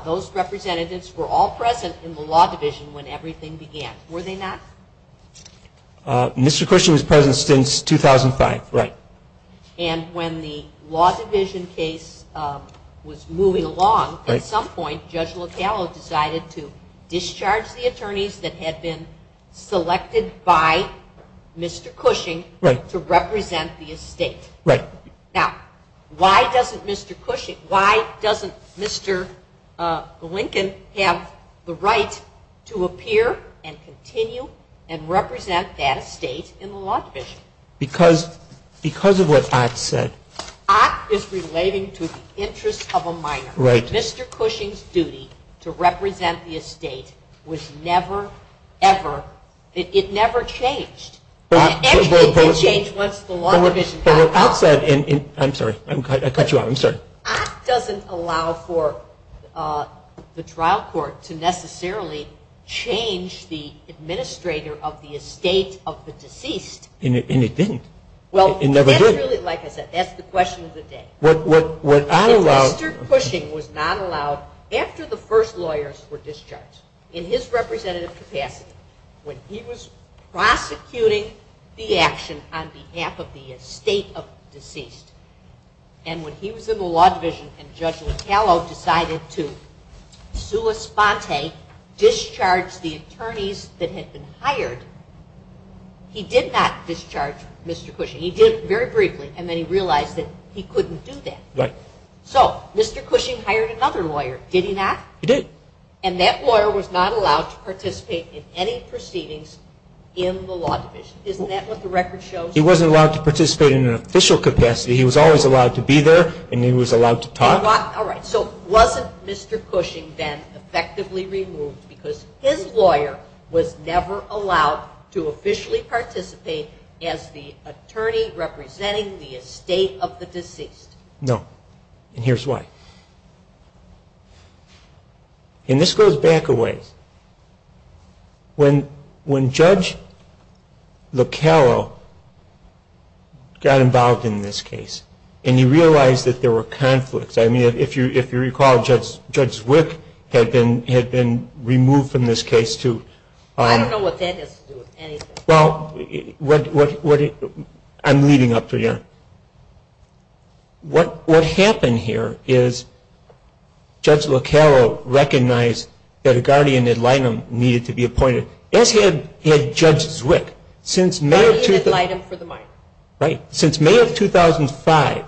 those representatives were all present in the law division when everything began. Were they not? Mr. Cushing was present since 2005. Right. And when the law division case was moving along, at some point, Judge Locallo decided to discharge the attorneys that had been selected by Mr. Cushing to represent the estate. Right. Now, why doesn't Mr. Cushing, why doesn't Mr. Lincoln have the right to appear and continue and represent that estate in the law division? Because of what act said. Act is relating to the interest of a minor. Right. Mr. Cushing's duty to represent the estate was never, ever, it never changed. But what act said in, I'm sorry, I cut you off, I'm sorry. Act doesn't allow for the trial court to necessarily change the administrator of the estate of the deceased. And it didn't. It never did. That's the question of the day. Mr. Cushing was not allowed, after the first lawyers were discharged, in his representative capacity, when he was prosecuting the action on behalf of the estate of the deceased, and when he was in the law division and Judge Locallo decided to sua sponte, discharge the attorneys that had been hired, he did not discharge Mr. Cushing. He did very briefly, and then he realized that he couldn't do that. Right. So Mr. Cushing hired another lawyer, did he not? He did. And that lawyer was not allowed to participate in any proceedings in the law division. Isn't that what the record shows? He wasn't allowed to participate in an official capacity. He was always allowed to be there, and he was allowed to talk. All right. So wasn't Mr. Cushing then effectively removed because his lawyer was never allowed to officially participate as the attorney representing the estate of the deceased? No. And here's why. And this goes back a way. When Judge Locallo got involved in this case, and he realized that there were conflicts. I mean, if you recall, Judge Wick had been removed from this case, too. I don't know what that has to do with anything. Well, I'm reading up for you. What happened here is Judge Locallo recognized that a guardian ad litem needed to be appointed. That had Judge Wick. Guardian ad litem for the minor. Right. Since May of 2005,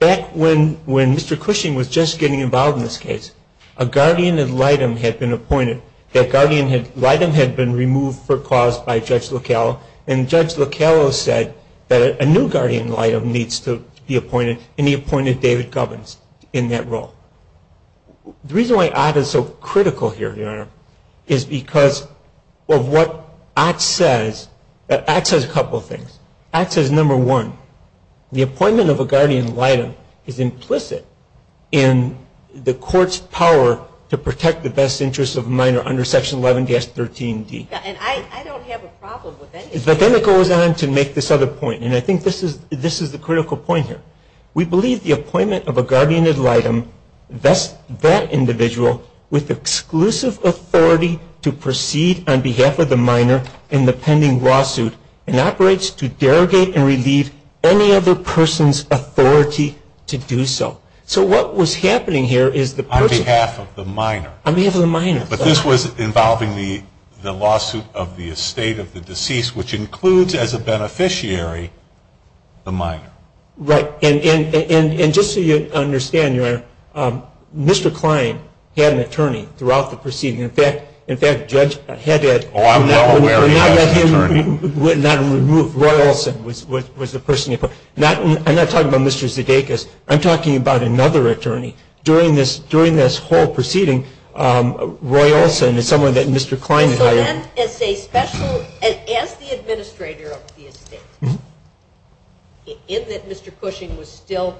back when Mr. Cushing was just getting involved in this case, a guardian ad litem had been appointed. That guardian ad litem had been removed for cause by Judge Locallo, and Judge Locallo said that a new guardian ad litem needs to be appointed, and he appointed David Govens in that role. The reason why Ott is so critical here, Your Honor, is because of what Ott says. Ott says a couple of things. Ott says, number one, the appointment of a guardian ad litem is implicit in the court's power to protect the best interests of the minor under Section 11-13-D. I don't have a problem with that. But then it goes on to make this other point, and I think this is the critical point here. We believe the appointment of a guardian ad litem vests that individual with exclusive authority to proceed on behalf of the minor in the pending lawsuit and operates to derogate and relieve any other person's authority to do so. So what was happening here is the person- On behalf of the minor. On behalf of the minor. But this was involving the lawsuit of the estate of the deceased, which includes as a beneficiary the minor. Right. And just so you understand, Your Honor, Mr. Klein had an attorney throughout the proceeding. In fact, Judge Pahetta- I'm not aware of that attorney. Roy Olson was the person involved. I'm not talking about Mr. Zdeikas. I'm talking about another attorney. During this whole proceeding, Roy Olson is someone that Mr. Klein hired. As the administrator of the estate, is it Mr. Cushing was still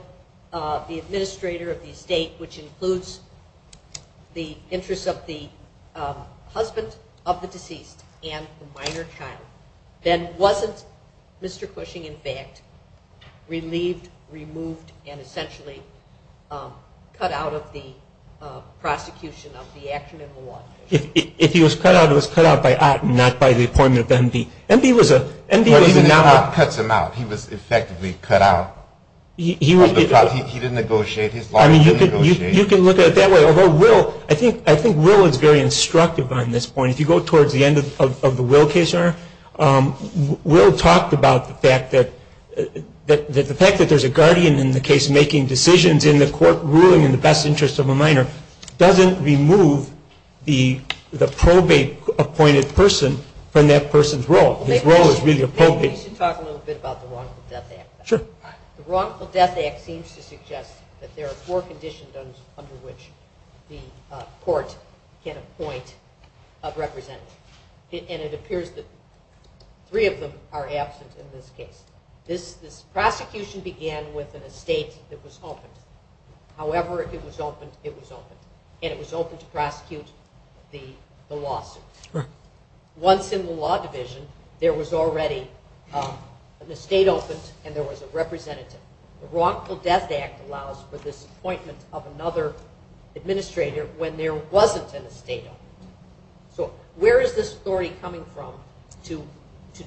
the administrator of the estate, which includes the interest of the husband of the deceased and the minor child, then wasn't Mr. Cushing, in fact, relieved, removed, and essentially cut out of the prosecution of the action in the lawsuit? If he was cut out, it was cut out by Otten, not by the appointment of MV. MV was a- MV now cuts him out. He was effectively cut out of the prosecution. He didn't negotiate his lawsuit. You can look at it that way. I think Will is very instructive on this point. If you go towards the end of the Will case, Your Honor, Will talked about the fact that there's a guardian in the case making decisions in the court ruling in the best interest of the minor doesn't remove the probate-appointed person from that person's role. His role is really the probate. Can you talk a little bit about the wrongful death act? Sure. The wrongful death act seems to suggest that there are four condition zones under which the court can appoint a representative, and it appears that three of them are absent in this case. The prosecution began with an estate that was open. However it was open, it was open, and it was open to prosecute the lawsuit. Once in the law division, there was already- The wrongful death act allows for the appointment of another administrator when there wasn't an estate. So where is this story coming from to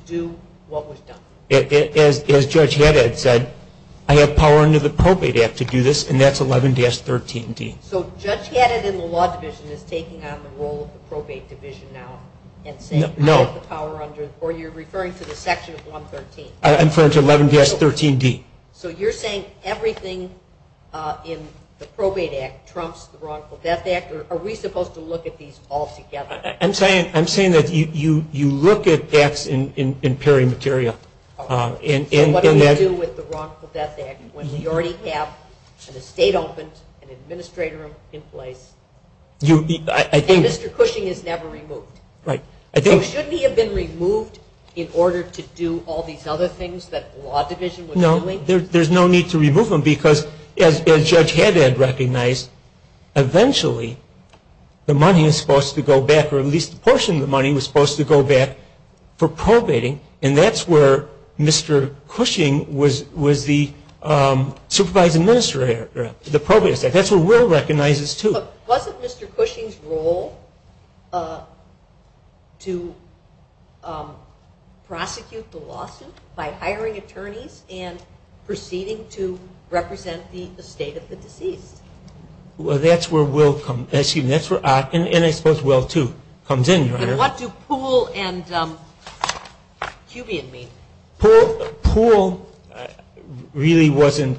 do what was done? As Judge Haddad said, I have power under the probate act to do this, and that's 11-13D. So Judge Haddad in the law division is taking on the role of the probate division now? No. Or you're referring to the section 113? I'm referring to 11-13D. So you're saying everything in the probate act trumps the wrongful death act, or are we supposed to look at these all together? I'm saying that you look at deaths in peri material. And what do you do with the wrongful death act when you already have an estate open, an administrator in place, and Mr. Cushing is never removed? Shouldn't he have been removed in order to do all these other things that the law division was doing? No, there's no need to remove him, because as Judge Haddad recognized, eventually the money is supposed to go back, or at least a portion of the money was supposed to go back for probating, and that's where Mr. Cushing was the supervisor-administrator for the probate effect. That's where Will recognizes, too. But wasn't Mr. Cushing's role to prosecute the lawsuit by hiring attorneys and proceeding to represent the estate of the deceased? Well, that's where Will comes in. That's where Austin, and I suppose Will, too, comes in. What do Poole and Cubian mean? Poole really wasn't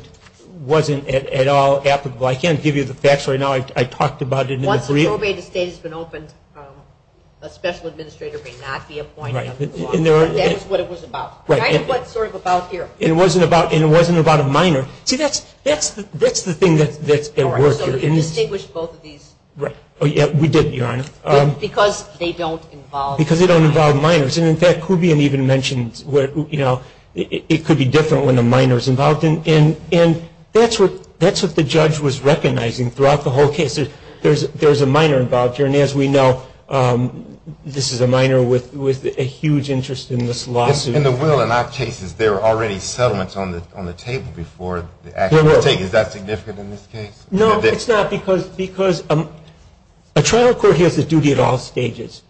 at all applicable. I can't give you the facts right now. I talked about it in the brief. Once a probate estate has been opened, a special administrator may not be appointed. That's what it was about. That's what it's sort of about here. And it wasn't about a minor. See, that's the thing that works here. You distinguished both of these. We did, Your Honor. Because they don't involve minors. Because they don't involve minors. And, in fact, Cubian even mentioned it could be different when a minor is involved. And that's what the judge was recognizing throughout the whole case. There's a minor involved here. And, as we know, this is a minor with a huge interest in this lawsuit. In the Will and our cases, there were already settlements on the table before the actual case. Is that significant in this case? No, it's not. Because a trial court has the duty at all stages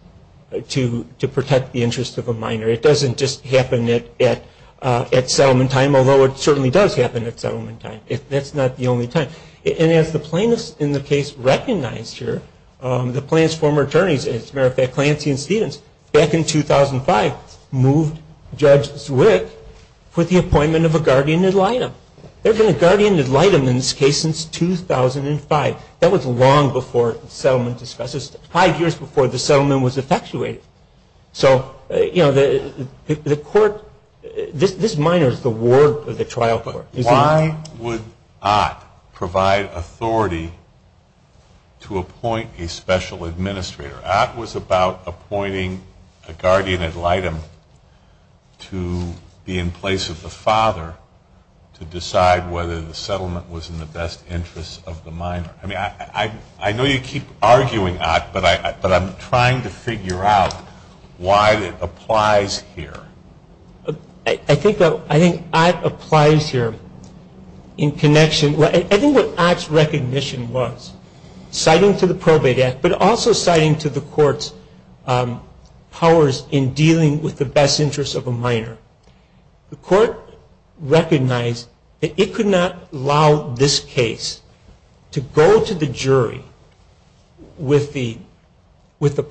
to protect the interests of a minor. It doesn't just happen at settlement time, although it certainly does happen at settlement time. That's not the only time. And as the plaintiff in the case recognized here, the plaintiff's former attorneys, as a matter of fact, Clancy and Stevens, back in 2005, moved Judge Swift with the appointment of a guardian ad litem. There's been a guardian ad litem in this case since 2005. That was long before the settlement, especially five years before the settlement was effectuated. So, you know, the court – this minor is the ward of the trial court. But why would Ott provide authority to appoint a special administrator? Ott was about appointing a guardian ad litem to be in place of the father to decide whether the settlement was in the best interest of the minor. I mean, I know you keep arguing, Ott, but I'm trying to figure out why it applies here. I think Ott applies here in connection – I think what Ott's recognition was, citing to the probate act, but also citing to the court's powers in dealing with the best interests of a minor, the court recognized that it could not allow this case to go to the jury with the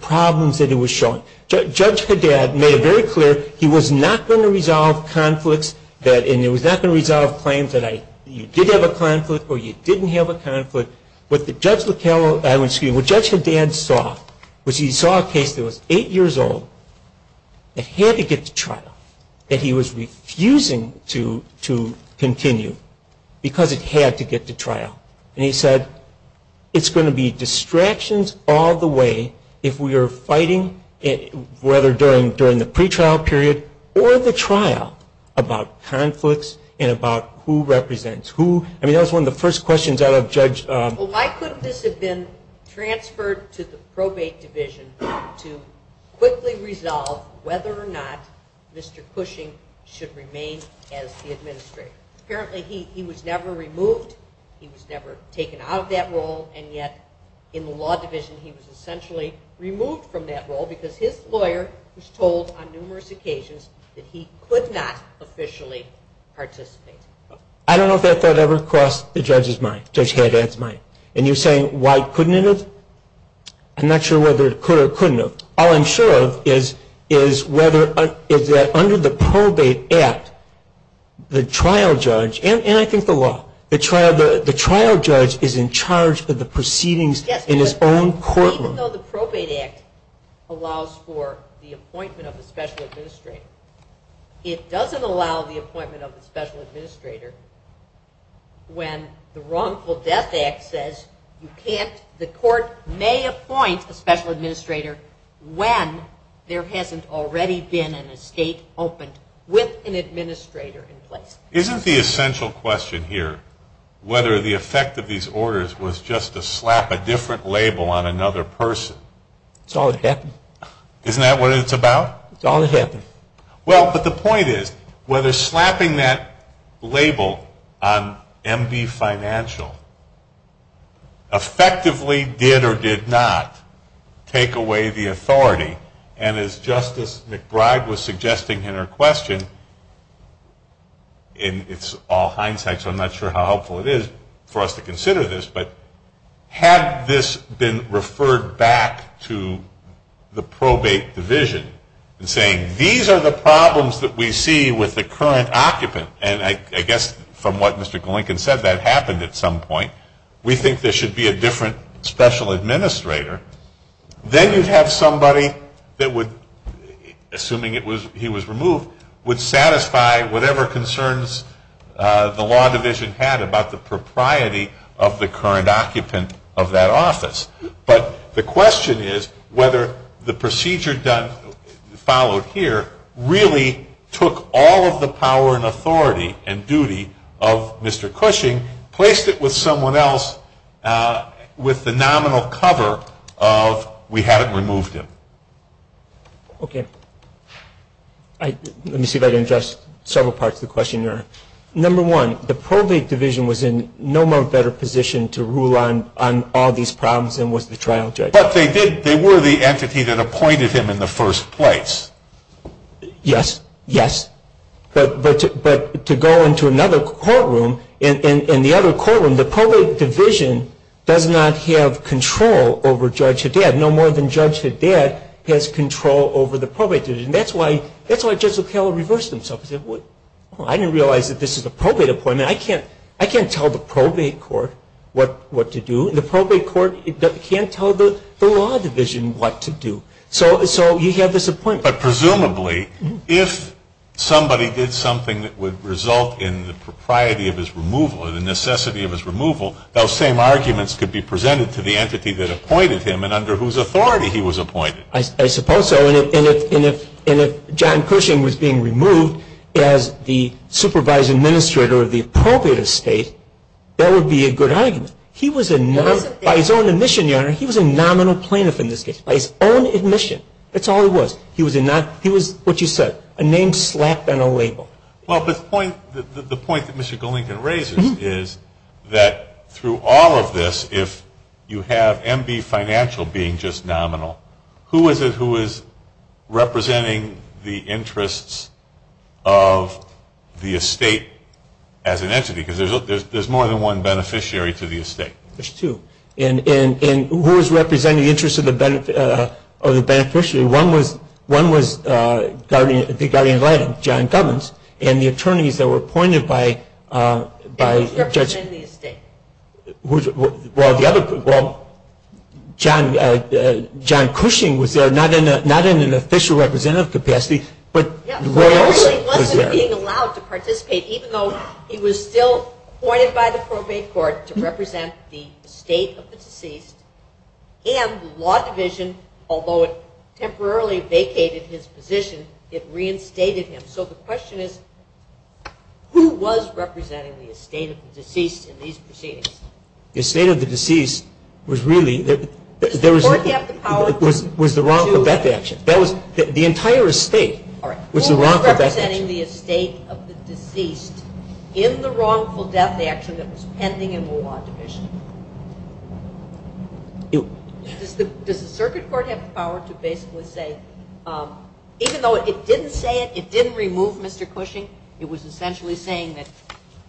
problems that it was showing. Judge Fadad made very clear he was not going to resolve conflicts that – and he was not going to resolve claims that you did have a conflict or you didn't have a conflict. What Judge Fadad saw was he saw a case that was eight years old that had to get to trial, that he was refusing to continue because it had to get to trial. And he said, it's going to be distractions all the way if we are fighting, whether during the pretrial period or the trial, about conflicts and about who represents who. I mean, that was one of the first questions I would have judged. Well, why couldn't this have been transferred to the probate division to quickly resolve whether or not Mr. Cushing should remain as the administrator? Apparently he was never removed, he was never taken out of that role, and yet in the law division he was essentially removed from that role because his lawyer was told on numerous occasions that he could not officially participate. I don't know if that thought ever crossed Judge Fadad's mind. And you're saying why couldn't it have? I'm not sure whether it could or couldn't have. All I'm sure of is that under the Probate Act, the trial judge – and I think the law – the trial judge is in charge of the proceedings in his own courtroom. Even though the Probate Act allows for the appointment of a special administrator, it doesn't allow the appointment of a special administrator when the Wrongful Death Act says the court may appoint a special administrator when there hasn't already been an estate opened with an administrator in place. Isn't the essential question here whether the effect of these orders was just to slap a different label on another person? It's always happened. Isn't that what it's about? It's always happened. Well, but the point is whether slapping that label on MD Financial effectively did or did not take away the authority, and as Justice McBride was suggesting in her question, and it's all hindsight so I'm not sure how helpful it is for us to consider this, but had this been referred back to the probate division and saying, these are the problems that we see with the current occupant, and I guess from what Mr. Glinken said, that happened at some point. We think there should be a different special administrator. Then you'd have somebody that would, assuming he was removed, would satisfy whatever concerns the law division had about the propriety of the current occupant of that office. But the question is whether the procedure followed here really took all of the power and authority and duty of Mr. Cushing, placed it with someone else with the nominal cover of we haven't removed him. Okay. Let me see if I can address several parts of the question there. Number one, the probate division was in no more better position to rule on all these problems than was the trial judge. But they were the entity that appointed him in the first place. Yes, yes. But to go into another courtroom, in the other courtroom, the probate division does not have control over Judge Haddad. No more than Judge Haddad has control over the probate division. That's why Judge O'Connor reversed himself. He said, well, I didn't realize that this is a probate appointment. I can't tell the probate court what to do. The probate court can't tell the law division what to do. So you have this appointment. But presumably, if somebody did something that would result in the propriety of his removal or the necessity of his removal, those same arguments could be presented to the entity that appointed him and under whose authority he was appointed. I suppose so. And if John Cushing was being removed as the supervisor administrator of the appropriate estate, that would be a good argument. By his own admission, Your Honor, he was a nominal plaintiff in this case. By his own admission. That's all it was. He was what you said, a name slapped on a label. Well, the point that Mr. Golinkin raises is that through all of this, if you have M.B. Financial being just nominal, who is representing the interests of the estate as an entity? Because there's more than one beneficiary to the estate. There's two. And who is representing the interests of the beneficiary? One was the guardian of the land, John Cummins, and the attorneys that were appointed by Judge Cushing were not in an official representative capacity. He wasn't being allowed to participate, even though he was still appointed by the Court of Appeals to represent the state of Mississippi and the law division, although it temporarily vacated his position, it reinstated him. So the question is, who was representing the estate of the deceased in these proceedings? The estate of the deceased was really the wrongful death action. The entire estate was the wrongful death action. Who was representing the estate of the deceased in the wrongful death action that was pending in the law division? Does the circuit court have the power to basically say, even though it didn't say it, it didn't remove Mr. Cushing, it was essentially saying that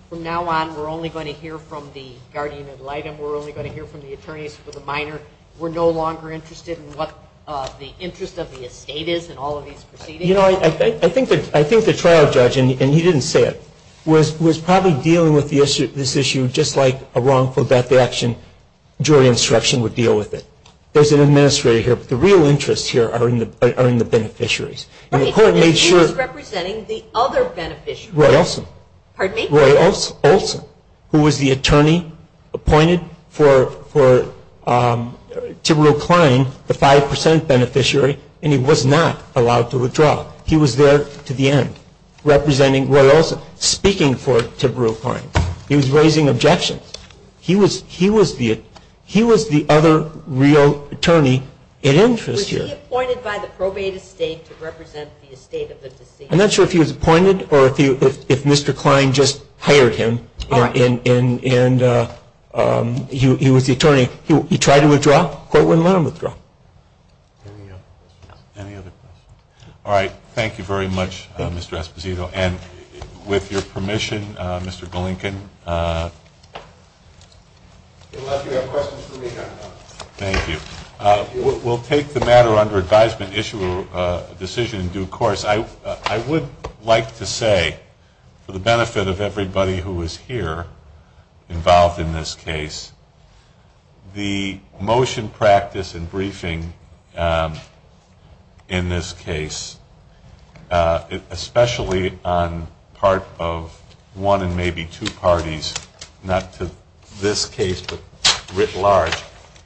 from now on we're only going to hear from the guardian of the land and we're only going to hear from the attorneys for the minor. We're no longer interested in what the interest of the estate is in all of these proceedings. You know, I think the trial judge, and he didn't say it, was probably dealing with this issue just like a wrongful death action jury instruction would deal with it. There's an administrator here, but the real interests here are in the beneficiaries. And the court made sure... He was representing the other beneficiary. Roy Olson. Pardon me? Roy Olson, who was the attorney appointed to recline the 5% beneficiary, and he was not allowed to withdraw. He was there to the end, representing Roy Olson, speaking for Tiberiu Klein. He was raising objections. He was the other real attorney in interest here. Was he appointed by the probated state to represent the estate of the deceased? I'm not sure if he was appointed or if Mr. Klein just hired him and he was the attorney. He tried to withdraw. Any other questions? All right. Thank you very much, Mr. Esposito. And with your permission, Mr. Golinkin, we'll take the matter under advisement, issue a decision in due course. I would like to say for the benefit of everybody who is here involved in this case, the motion practice and briefing in this case, especially on part of one and maybe two parties, not to this case but writ large,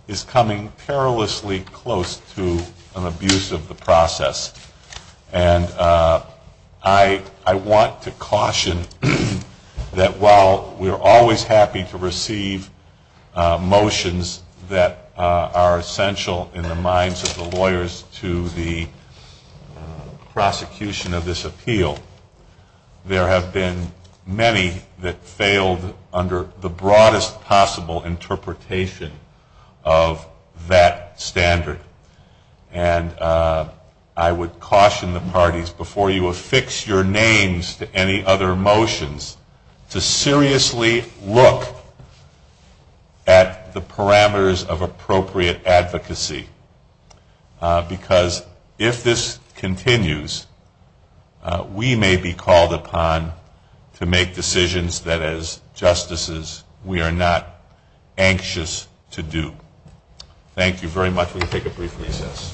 is coming perilously close to an abuse of the process. And I want to caution that while we're always happy to receive motions that are essential in the minds of the lawyers to the prosecution of this appeal, there have been many that failed under the broadest possible interpretation of that standard. And I would caution the parties, before you affix your names to any other motions, to seriously look at the parameters of appropriate advocacy. Because if this continues, we may be called upon to make decisions that as justices we are not anxious to do. Thank you very much. We'll take a brief recess.